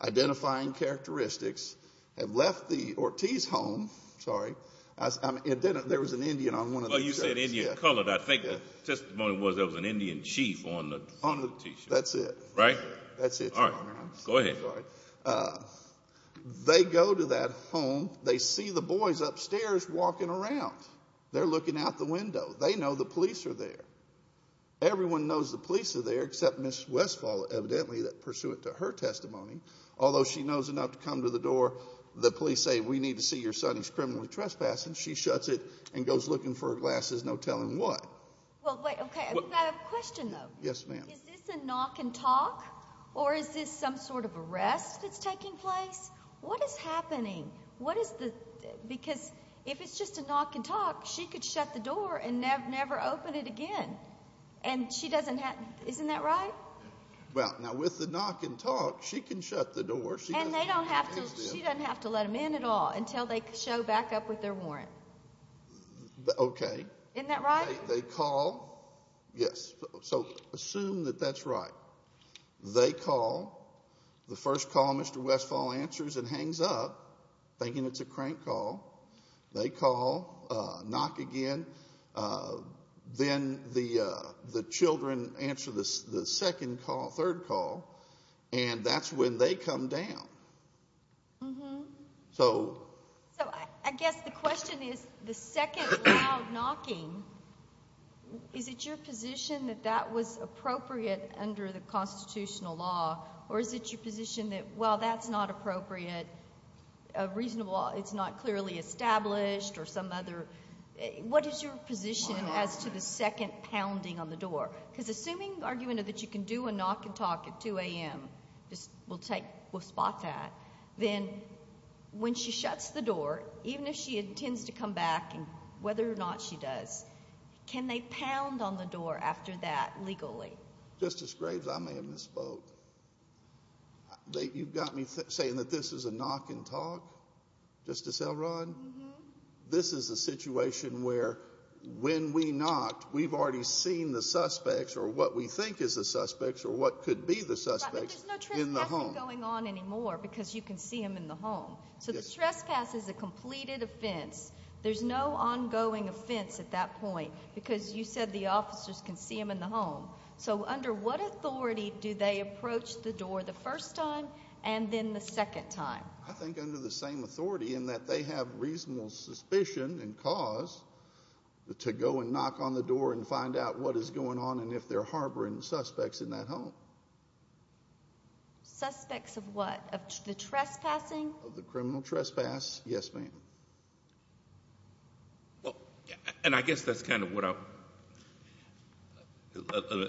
identifying characteristics, have left the Ortiz home. Sorry. There was an Indian on one of the T-shirts. You said Indian-colored. I think the testimony was of an Indian chief on the T-shirt. That's it. Right? That's it. All right. Go ahead. They go to that home. They see the boys upstairs walking around. They're looking out the window. They know the police are there. Everyone knows the police are there except Ms. Westall, evidently, pursuant to her testimony. Although she knows enough to come to the door, the police say, we need to see your son who's criminally trespassing. She shuts it and goes looking for her glasses, no telling what. Well, wait, okay. I've got a question, though. Yes, ma'am. Is this a knock and talk, or is this some sort of arrest that's taking place? What is happening? Because if it's just a knock and talk, she could shut the door and never open it again. And she doesn't have to. Isn't that right? Well, now, with the knock and talk, she can shut the door. And she doesn't have to let them in at all until they show back up with their warrant. Okay. Isn't that right? They call. Yes. So assume that that's right. They call. The first call, Mr. Westall answers and hangs up, thinking it's a crank call. They call. Knock again. Then the children answer the second call, third call, and that's when they come down. So I guess the question is, the second loud knocking, is it your position that that was appropriate under the constitutional law, or is it your position that, well, that's not appropriate, reasonable, it's not clearly established, or some other? What is your position as to the second pounding on the door? Because assuming the argument is that you can do a knock and talk at 2 a.m. We'll spot that. Then when she shuts the door, even if she intends to come back, whether or not she does, can they pound on the door after that legally? Just as straight as I may have been spoke. You've got me saying that this is a knock and talk, Mr. Selrod? This is a situation where when we knock, we've already seen the suspects or what we think is the suspects or what could be the suspects in the home. They're not going on anymore because you can see them in the home. So the trespass is a completed offense. There's no ongoing offense at that point because you said the officers can see them in the home. So under what authority do they approach the door the first time and then the second time? I think under the same authority in that they have reasonable suspicion and cause to go and knock on the door and find out what is going on and if they're harboring suspects in that home. Suspects of what? Of the trespassing? Of the criminal trespass. Yes, ma'am. I guess that's kind of what I...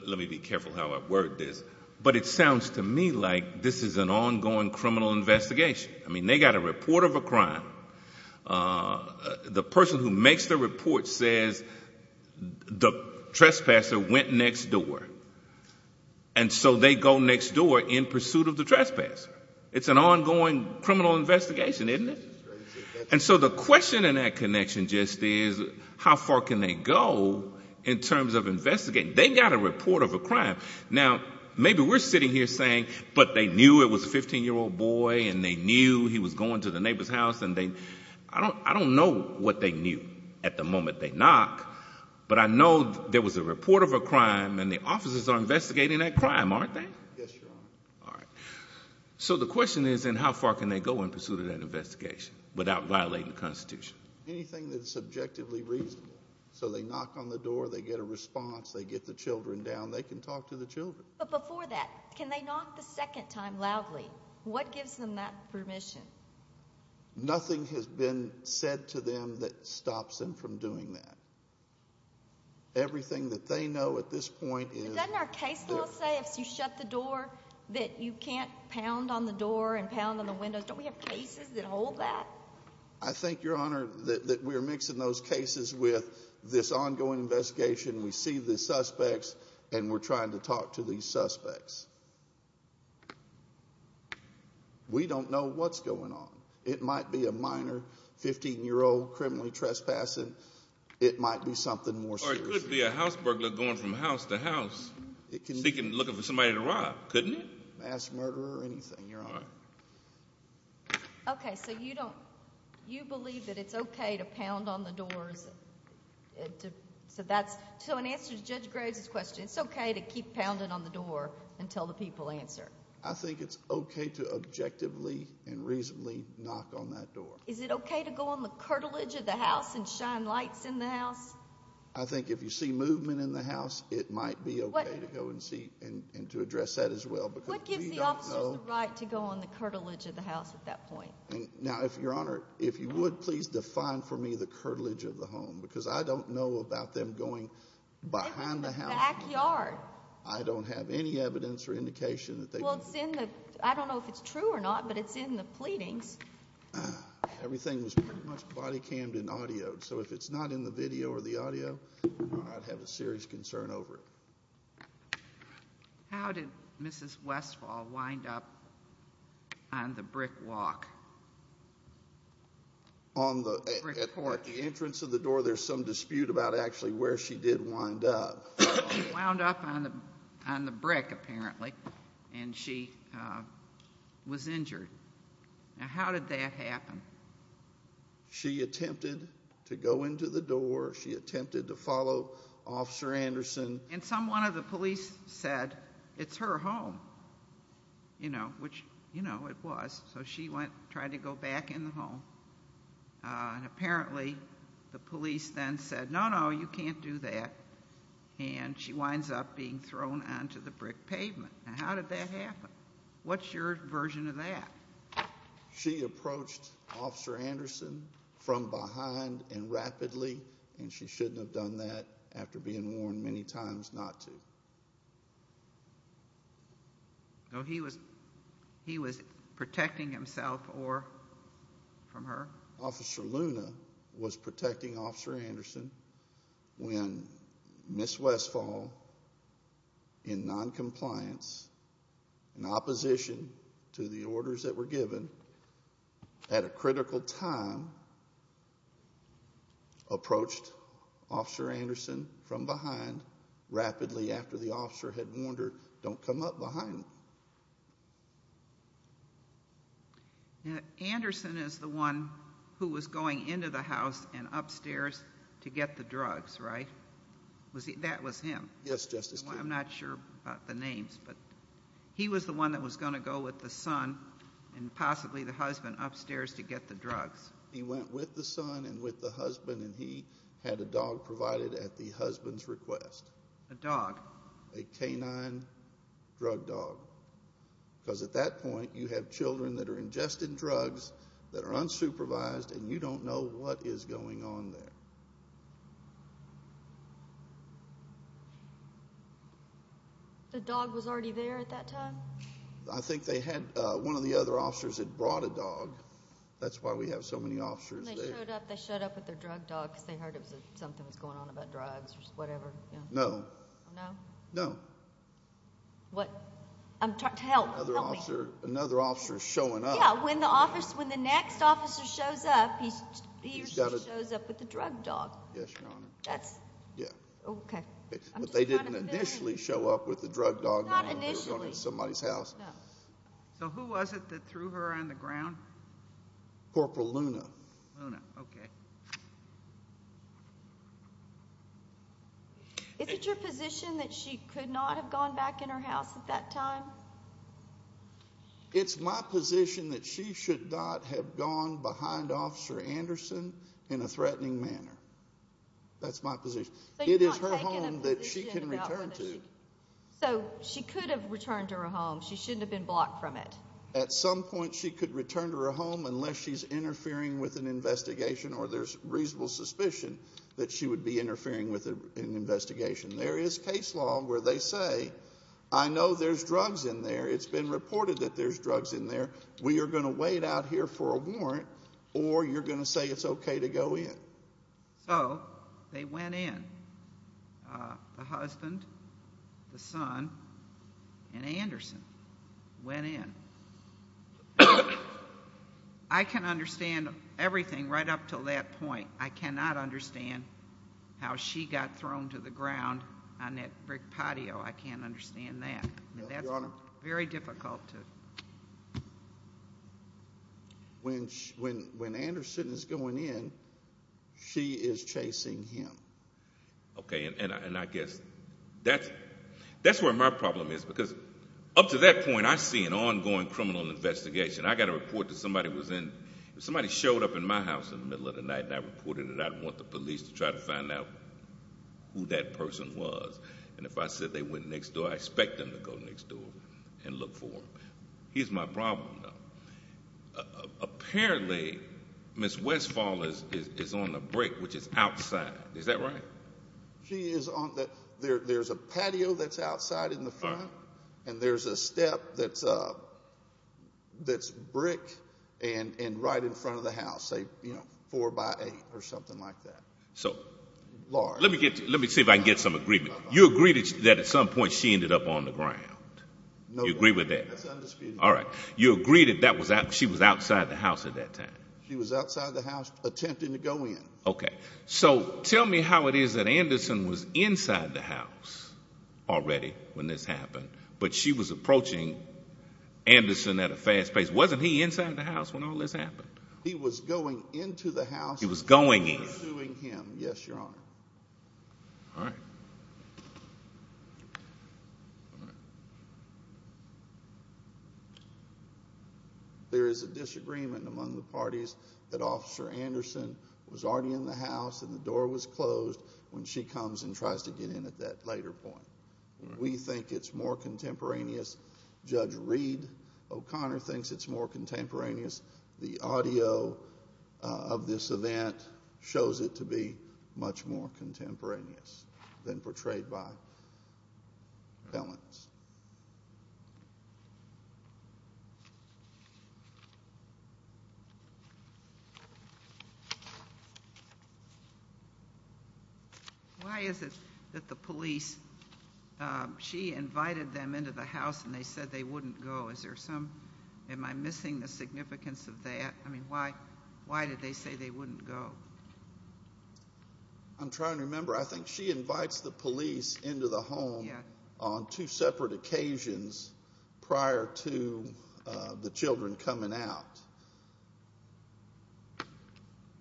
Let me be careful how I word this. But it sounds to me like this is an ongoing criminal investigation. They got a report of a crime. The person who makes the report says the trespasser went next door. And so they go next door in pursuit of the trespass. It's an ongoing criminal investigation, isn't it? And so the question in that connection just is how far can they go in terms of investigating? They got a report of a crime. Now, maybe we're sitting here saying, but they knew it was a 15-year-old boy and they knew he was going to the neighbor's house. I don't know what they knew at the moment. But I know there was a report of a crime and the officers are investigating that crime, aren't they? Yes, sir. All right. So the question is then how far can they go in pursuit of that investigation without violating the Constitution? Anything that's subjectively reasonable. So they knock on the door, they get a response, they get the children down, they can talk to the children. But before that, can they knock a second time loudly? What gives them that permission? Nothing has been said to them that stops them from doing that. Everything that they know at this point is... Doesn't our case say if you shut the door that you can't pound on the door and pound on the windows? Don't we have cases that hold that? I think, Your Honor, that we're mixing those cases with this ongoing investigation. We see the suspects and we're trying to talk to these suspects. We don't know what's going on. It might be a minor 15-year-old criminally trespassing. It might be something more serious. Or it could be a house burglar going from house to house seeking to look for somebody to rob, couldn't it? Mass murder or anything, Your Honor. Okay. So you don't... You believe that it's okay to pound on the doors? So that's... So in answer to Judge Graves' question, it's okay to keep pounding on the door until the people answer? I think it's okay to objectively and reasonably knock on that door. Is it okay to go on the curtilage of the house and shine lights in the house? I think if you see movement in the house, it might be okay to go and see and to address that as well. What gives the officer the right to go on the curtilage of the house at that point? Now, Your Honor, if you would please define for me the curtilage of the home because I don't know about them going behind the house. This is the backyard. I don't have any evidence or indication that they... Well, it's in the... I don't know if it's true or not, but it's in the pleadings. Everything is pretty much body-cammed in audio, so if it's not in the video or the audio, I'd have a serious concern over it. How did Mrs. Westfall wind up on the brick walk? On the... At the entrance of the door, there's some dispute about actually where she did wind up. She wound up on the brick, apparently, and she was injured. Now, how did that happen? She attempted to go into the door. She attempted to follow Officer Anderson. And someone of the police said, it's her home, you know, which, you know, it was. So she went and tried to go back in the home. And apparently, the police then said, no, no, you can't do that. And she winds up being thrown onto the brick pavement. Now, how did that happen? What's your version of that? She approached Officer Anderson from behind and rapidly, and she shouldn't have done that after being warned many times not to. So he was protecting himself or from her? Or Officer Luna was protecting Officer Anderson when Mrs. Westfall, in noncompliance, in opposition to the orders that were given, at a critical time, approached Officer Anderson from behind rapidly after the officer had warned her, don't come up behind me. Now, Anderson is the one who was going into the house and upstairs to get the drugs, right? That was him? Yes, Justice Ginsburg. I'm not sure about the names. But he was the one that was going to go with the son and possibly the husband upstairs to get the drugs. He went with the son and with the husband, and he had a dog provided at the husband's request. A dog? A canine drug dog. Because at that point, you have children that are ingested drugs, that are unsupervised, and you don't know what is going on there. The dog was already there at that time? I think they had one of the other officers had brought a dog. That's why we have so many officers there. And they showed up, they showed up with a drug dog because they heard something was going on about drugs or whatever. No. No? No. What? Help, help me. Another officer is showing up. Yeah, when the next officer shows up, he usually shows up with a drug dog. Yes, Your Honor. That's it. Yeah. Okay. But they didn't initially show up with a drug dog. Not initially. They were going to somebody's house. So who was it that threw her on the ground? Corporal Luna. Luna, okay. Is it your position that she could not have gone back in her house at that time? It's my position that she should not have gone behind Officer Anderson in a threatening manner. That's my position. It is her home that she can return to. So she could have returned to her home. She shouldn't have been blocked from it. At some point, she could return to her home unless she's interfering with an investigation or there's reasonable suspicion that she would be interfering with an investigation. There is case law where they say, I know there's drugs in there. It's been reported that there's drugs in there. We are going to wait out here for a warrant or you're going to say it's okay to go in. So they went in. The husband, the son, and Anderson went in. I can understand everything right up to that point. I cannot understand how she got thrown to the ground on that brick patio. I can't understand that. That's very difficult. When Anderson's going in, she is chasing him. Okay, and I guess that's where my problem is because up to that point, I see an ongoing criminal investigation. I got a report that somebody was in. Somebody showed up in my house in the middle of the night and I reported that I want the police to try to find out who that person was. And if I said they went next door, I expect them to go next door and look for them. Here's my problem, though. Apparently, Ms. Westfall is on the brick, which is outside. Is that right? There's a patio that's outside in the front and there's a step that's brick and right in front of the house, say four by eight or something like that. Let me see if I can get some agreement. You agree that at some point she ended up on the ground. You agree with that? All right. You agree that she was outside the house at that time? She was outside the house attempting to go in. Okay. So tell me how it is that Anderson was inside the house already when this happened, but she was approaching Anderson at a fast pace. Wasn't he inside the house when all this happened? He was going into the house. He was going in. Pursuing him. Yes, Your Honor. All right. There is a disagreement among the parties that Officer Anderson was already in the house and the door was closed when she comes and tries to get in at that later point. We think it's more contemporaneous. Judge Reed O'Connor thinks it's more contemporaneous. The audio of this event shows it to be much more contemporaneous than portrayed by felons. Why is it that the police, she invited them into the house and they said they wouldn't go? Am I missing the significance of that? Why did they say they wouldn't go? I'm trying to remember. I think she invites the police into the home on two separate occasions prior to the children coming out.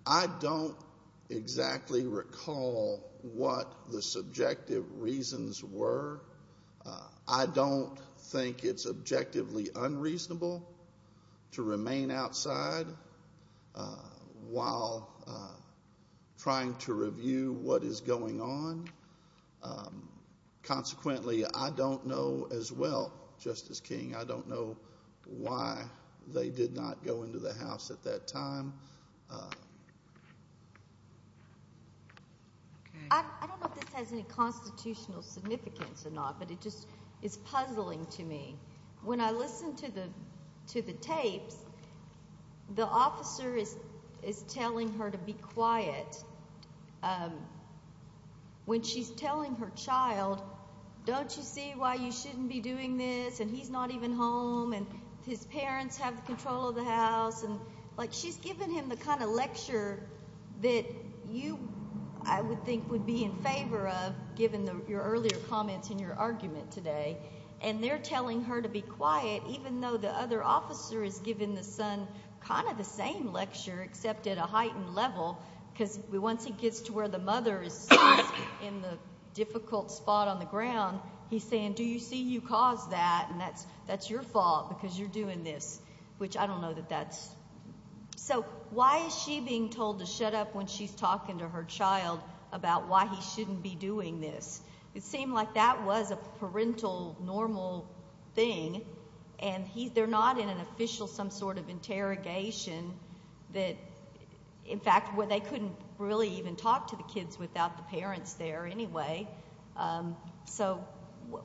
I don't exactly recall what the subjective reasons were. I don't think it's objectively unreasonable to remain outside while trying to review what is going on. Consequently, I don't know as well, Justice King, I don't know why they did not go into the house at that time. I don't know if this has any constitutional significance or not, but it's puzzling to me. When I listen to the tape, the officer is telling her to be quiet. When she's telling her child, don't you see why you shouldn't be doing this and he's not even home and his parents have control of the house. She's giving him the kind of lecture that you, I would think, would be in favor of given your earlier comments and your argument today. They're telling her to be quiet even though the other officer is giving the son kind of the same lecture except at a heightened level because once he gets to where the mother is in the difficult spot on the ground, he's saying, do you see you caused that and that's your fault because you're doing this, which I don't know that that's... So why is she being told to shut up when she's talking to her child about why he shouldn't be doing this? It seemed like that was a parental normal thing and they're not in an official some sort of interrogation that, in fact, they couldn't really even talk to the kids without the parents there anyway. So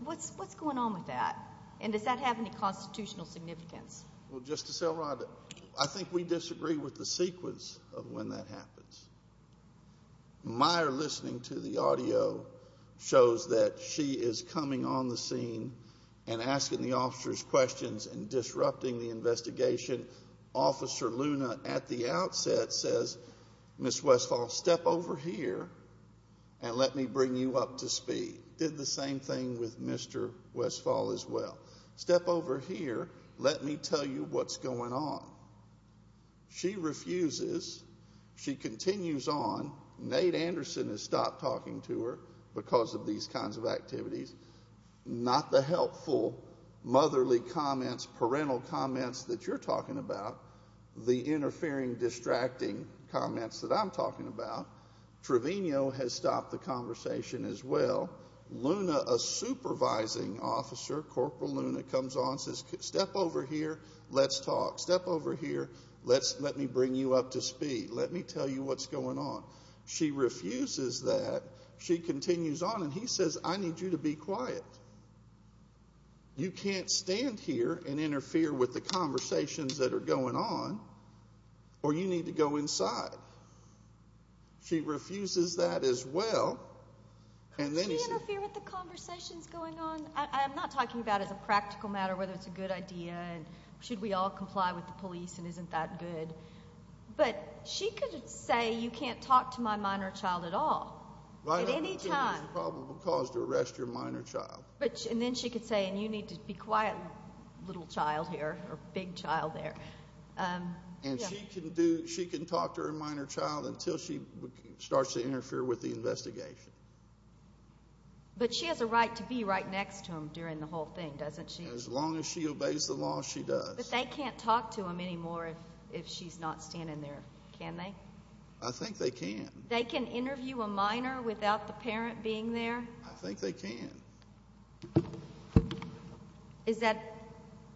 what's going on with that and does that have any constitutional significance? Well, Justice Elrod, I think we disagree with the sequence of when that happens. My listening to the audio shows that she is coming on the scene and asking the officers questions and disrupting the investigation. Officer Luna at the outset says, Ms. Westphal, step over here and let me bring you up to speed. Did the same thing with Mr. Westphal as well. Step over here, let me tell you what's going on. She refuses. She continues on. Nate Anderson has stopped talking to her because of these kinds of activities. Not the helpful motherly comments, parental comments that you're talking about, the interfering, distracting comments that I'm talking about. Trevino has stopped the conversation as well. Luna, a supervising officer, Corporal Luna comes on and says, step over here, let's talk. Step over here, let me bring you up to speed. Let me tell you what's going on. She refuses that. She continues on and he says, I need you to be quiet. You can't stand here and interfere with the conversations that are going on or you need to go inside. She refuses that as well. Can you interfere with the conversations going on? I'm not talking about it as a practical matter, whether it's a good idea. Should we all comply with the police and isn't that good? But she could say, you can't talk to my minor child at all. At any time. Well, I don't think that's a probable cause to arrest your minor child. And then she could say, and you need to be quiet little child here or big child there. And she can talk to her minor child until she starts to interfere with the investigation. But she has a right to be right next to him during the whole thing, doesn't she? As long as she obeys the law, she does. But they can't talk to him anymore if she's not standing there, can they? I think they can. They can interview a minor without the parent being there? I think they can. Is that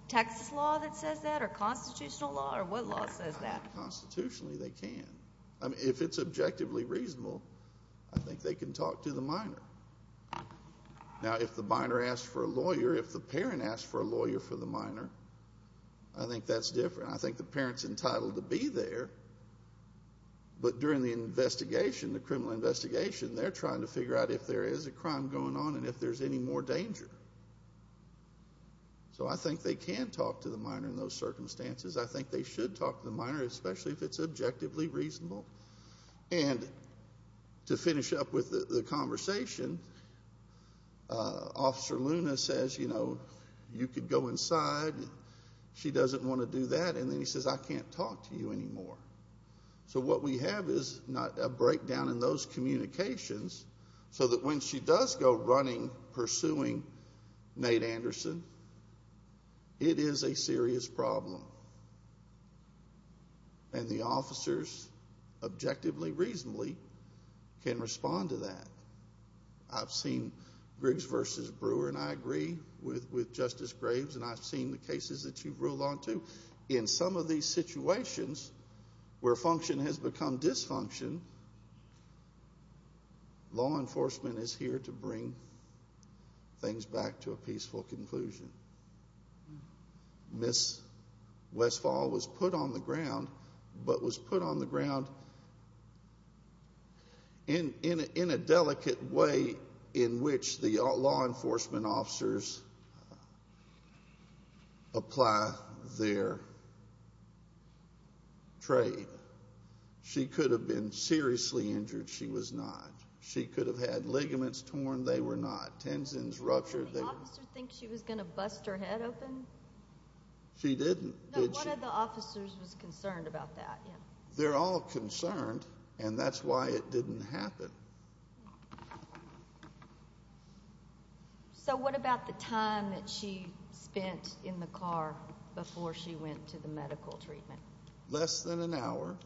tax law that says that or constitutional law or what law says that? Constitutionally, they can. If it's objectively reasonable, I think they can talk to the minor. Now, if the minor asks for a lawyer, if the parent asks for a lawyer for the minor, I think that's different. I think the parent's entitled to be there. But during the investigation, the criminal investigation, they're trying to figure out if there is a crime going on and if there's any more danger. So I think they can talk to the minor in those circumstances. I think they should talk to the minor, especially if it's objectively reasonable. And to finish up with the conversation, Officer Luna says, you know, you could go inside. She doesn't want to do that. And then he says, I can't talk to you anymore. So what we have is a breakdown in those communications so that when she does go running, pursuing Nate Anderson, it is a serious problem. And the officers, objectively, reasonably, can respond to that. I've seen Briggs v. Brewer, and I agree with Justice Graves, and I've seen the cases that you've ruled on too. In some of these situations where function has become dysfunction, law enforcement is here to bring things back to a peaceful conclusion. Ms. Westphal was put on the ground, but was put on the ground in a delicate way in which the law enforcement officers apply their trade. She could have been seriously injured. She was not. She could have had ligaments torn. They were not. Tensions, ruptures. Did the officers think she was going to bust her head open? She didn't, did she? None of the officers was concerned about that. They're all concerned, and that's why it didn't happen. So what about the time that she spent in the car before she went to the medical treatment? Less than an hour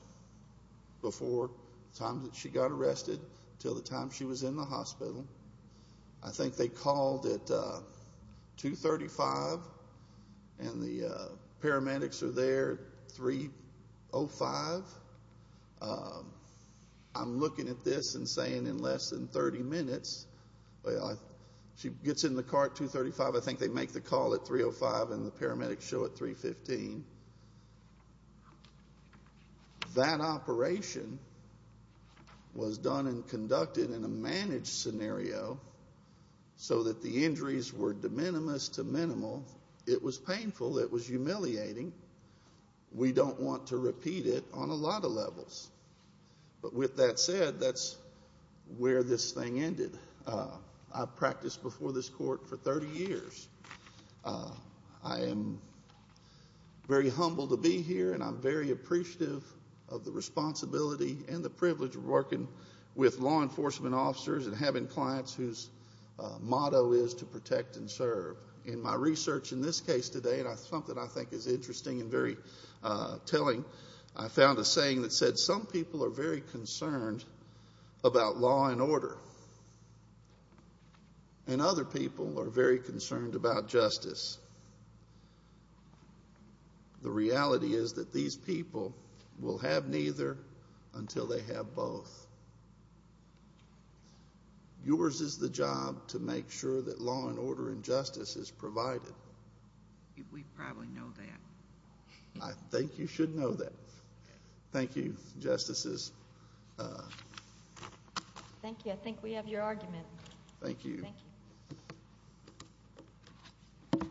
before the time that she got arrested until the time she was in the hospital. I think they called at 235, and the paramedics are there at 305. I'm looking at this and saying in less than 30 minutes. She gets in the car at 235. I think they make the call at 305 and the paramedics show at 315. That operation was done and conducted in a managed scenario so that the injuries were de minimis to minimal. It was painful. It was humiliating. We don't want to repeat it on a lot of levels. But with that said, that's where this thing ended. I practiced before this court for 30 years. I am very humbled to be here, and I'm very appreciative of the responsibility and the privilege of working with law enforcement officers and having clients whose motto is to protect and serve. In my research in this case today, something I think is interesting and very telling, I found a saying that said some people are very concerned about law and order, and other people are very concerned about justice. The reality is that these people will have neither until they have both. Yours is the job to make sure that law and order and justice is provided. We probably know that. I think you should know that. Thank you, Justices. Thank you. I think we have your argument. Thank you. Thank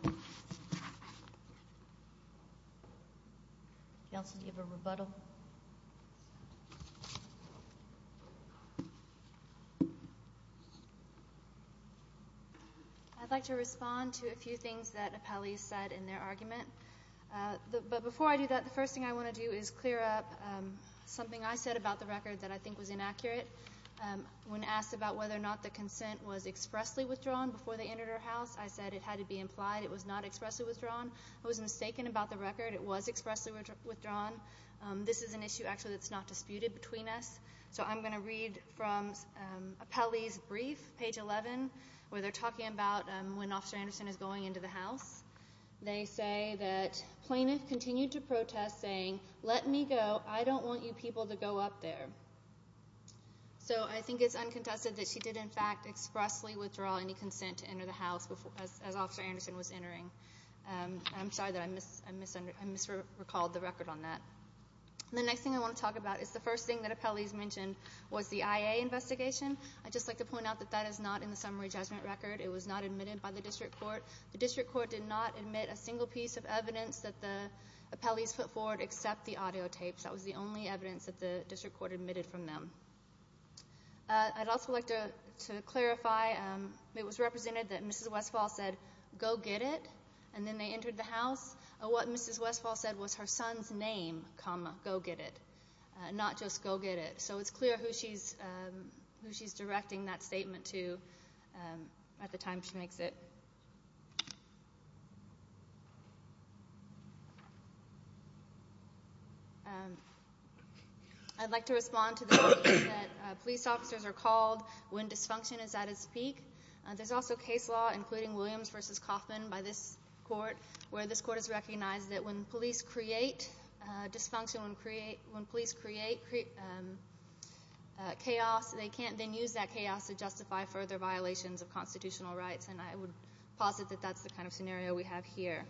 you. If y'all can give a rebuttal. I'd like to respond to a few things that Apali said in their argument. But before I do that, the first thing I want to do is clear up something I said about the record that I think was inaccurate. When asked about whether or not the consent was expressly withdrawn before they entered her house, I said it had to be implied. It was not expressly withdrawn. I was mistaken about the record. It was expressly withdrawn. This is an issue, actually, that's not disputed between us. So I'm going to read from Apali's brief, page 11, where they're talking about when Officer Anderson is going into the house. They say that Plaintiff continued to protest, saying, let me go, I don't want you people to go up there. So I think it's unconfessed that she did, in fact, expressly withdraw any consent to enter the house as Officer Anderson was entering. I'm sorry, I misrecalled the record on that. The next thing I want to talk about is the first thing that Apali's mentioned was the IA investigation. I'd just like to point out that that is not in the summary judgment record. It was not admitted by the district court. The district court did not admit a single piece of evidence that the Apalis put forward except the audio tapes. That was the only evidence that the district court admitted from them. I'd also like to clarify it was represented that Mrs. Westphal said, go get it, and then they entered the house. What Mrs. Westphal said was her son's name, comma, go get it, not just go get it. So it's clear who she's directing that statement to at the time she makes it. I'd like to respond to the question that police officers are called when dysfunction is at its peak. There's also case law, including Williams v. Kaufman by this court, where this court has recognized that when police create dysfunction, when police create chaos, they can't then use that chaos to justify further violations of constitutional rights, and I would posit that that's the kind of scenario we have here.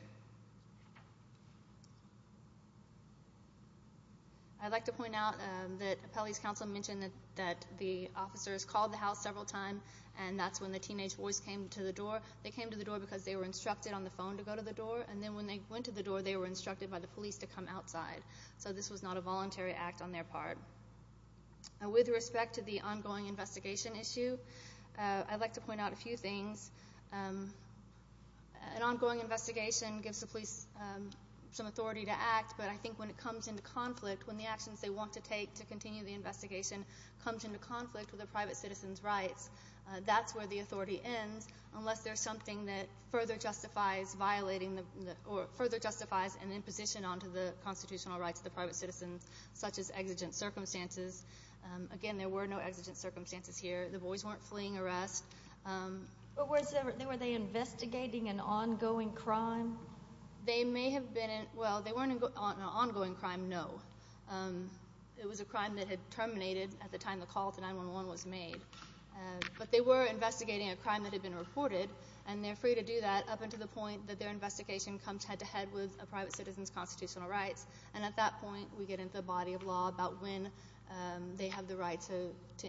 I'd like to point out that Apalis Counselor mentioned that the officers called the house several times, and that's when the teenage boys came to the door. They came to the door because they were instructed on the phone to go to the door, and then when they went to the door, they were instructed by the police to come outside. So this was not a voluntary act on their part. With respect to the ongoing investigation issue, I'd like to point out a few things. An ongoing investigation gives the police some authority to act, but I think when it comes into conflict, when the actions they want to take to continue the investigation comes into conflict with the private citizen's rights, that's where the authority ends, unless there's something that further justifies violating the court, further justifies an imposition onto the constitutional rights of the private citizen, such as exigent circumstances. Again, there were no exigent circumstances here. The boys weren't fleeing arrest. But were they investigating an ongoing crime? They may have been. Well, they weren't an ongoing crime, no. It was a crime that had terminated at the time the call to 911 was made, but they were investigating a crime that had been reported, and they're free to do that up until the point that their investigation comes head-to-head with a private citizen's constitutional rights, and at that point we get into a body of law about when they have the right to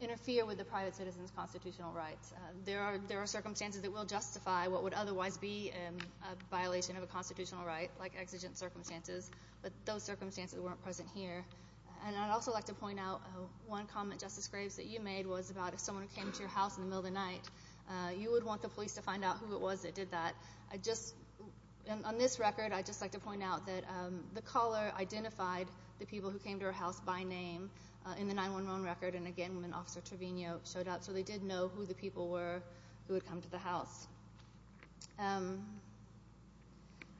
interfere with the private citizen's constitutional rights. There are circumstances that will justify what would otherwise be a violation of a constitutional right, like exigent circumstances, but those circumstances weren't present here. And I'd also like to point out one common justice phrase that you made was about if someone came to your house in the middle of the night, you would want the police to find out who it was that did that, and on this record I'd just like to point out that the caller identified the people who came to her house by name in the 911 record, and again when Officer Trevino showed up, so they did know who the people were who had come to the house.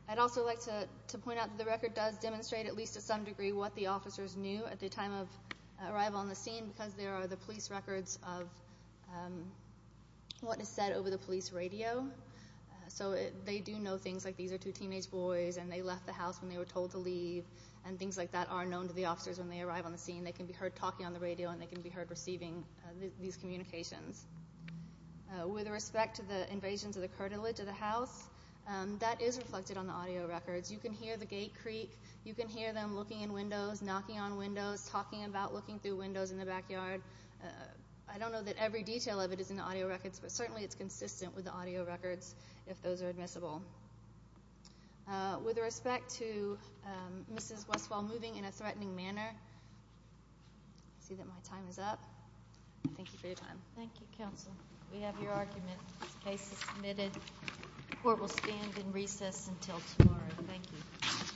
I'd also like to point out that the record does demonstrate at least to some degree what the officers knew at the time of arrival on the scene, because there are the police records of what is said over the police radio, so they do know things like these are two teenage boys, and they left the house and they were told to leave, and things like that are known to the officers when they arrive on the scene. They can be heard talking on the radio, and they can be heard receiving these communications. With respect to the invasion to the cartilage of the house, that is reflected on the audio records. You can hear the gate creak. You can hear them looking in windows, knocking on windows, talking about looking through windows in the backyard. I don't know that every detail of it is in the audio records, but certainly it's consistent with the audio records if those are admissible. With respect to Mrs. Westphal moving in a threatening manner, I see that my time is up. Thank you for your time. Thank you, Counsel. We have your argument. Case is submitted. Court will stand in recess until tomorrow. Thank you.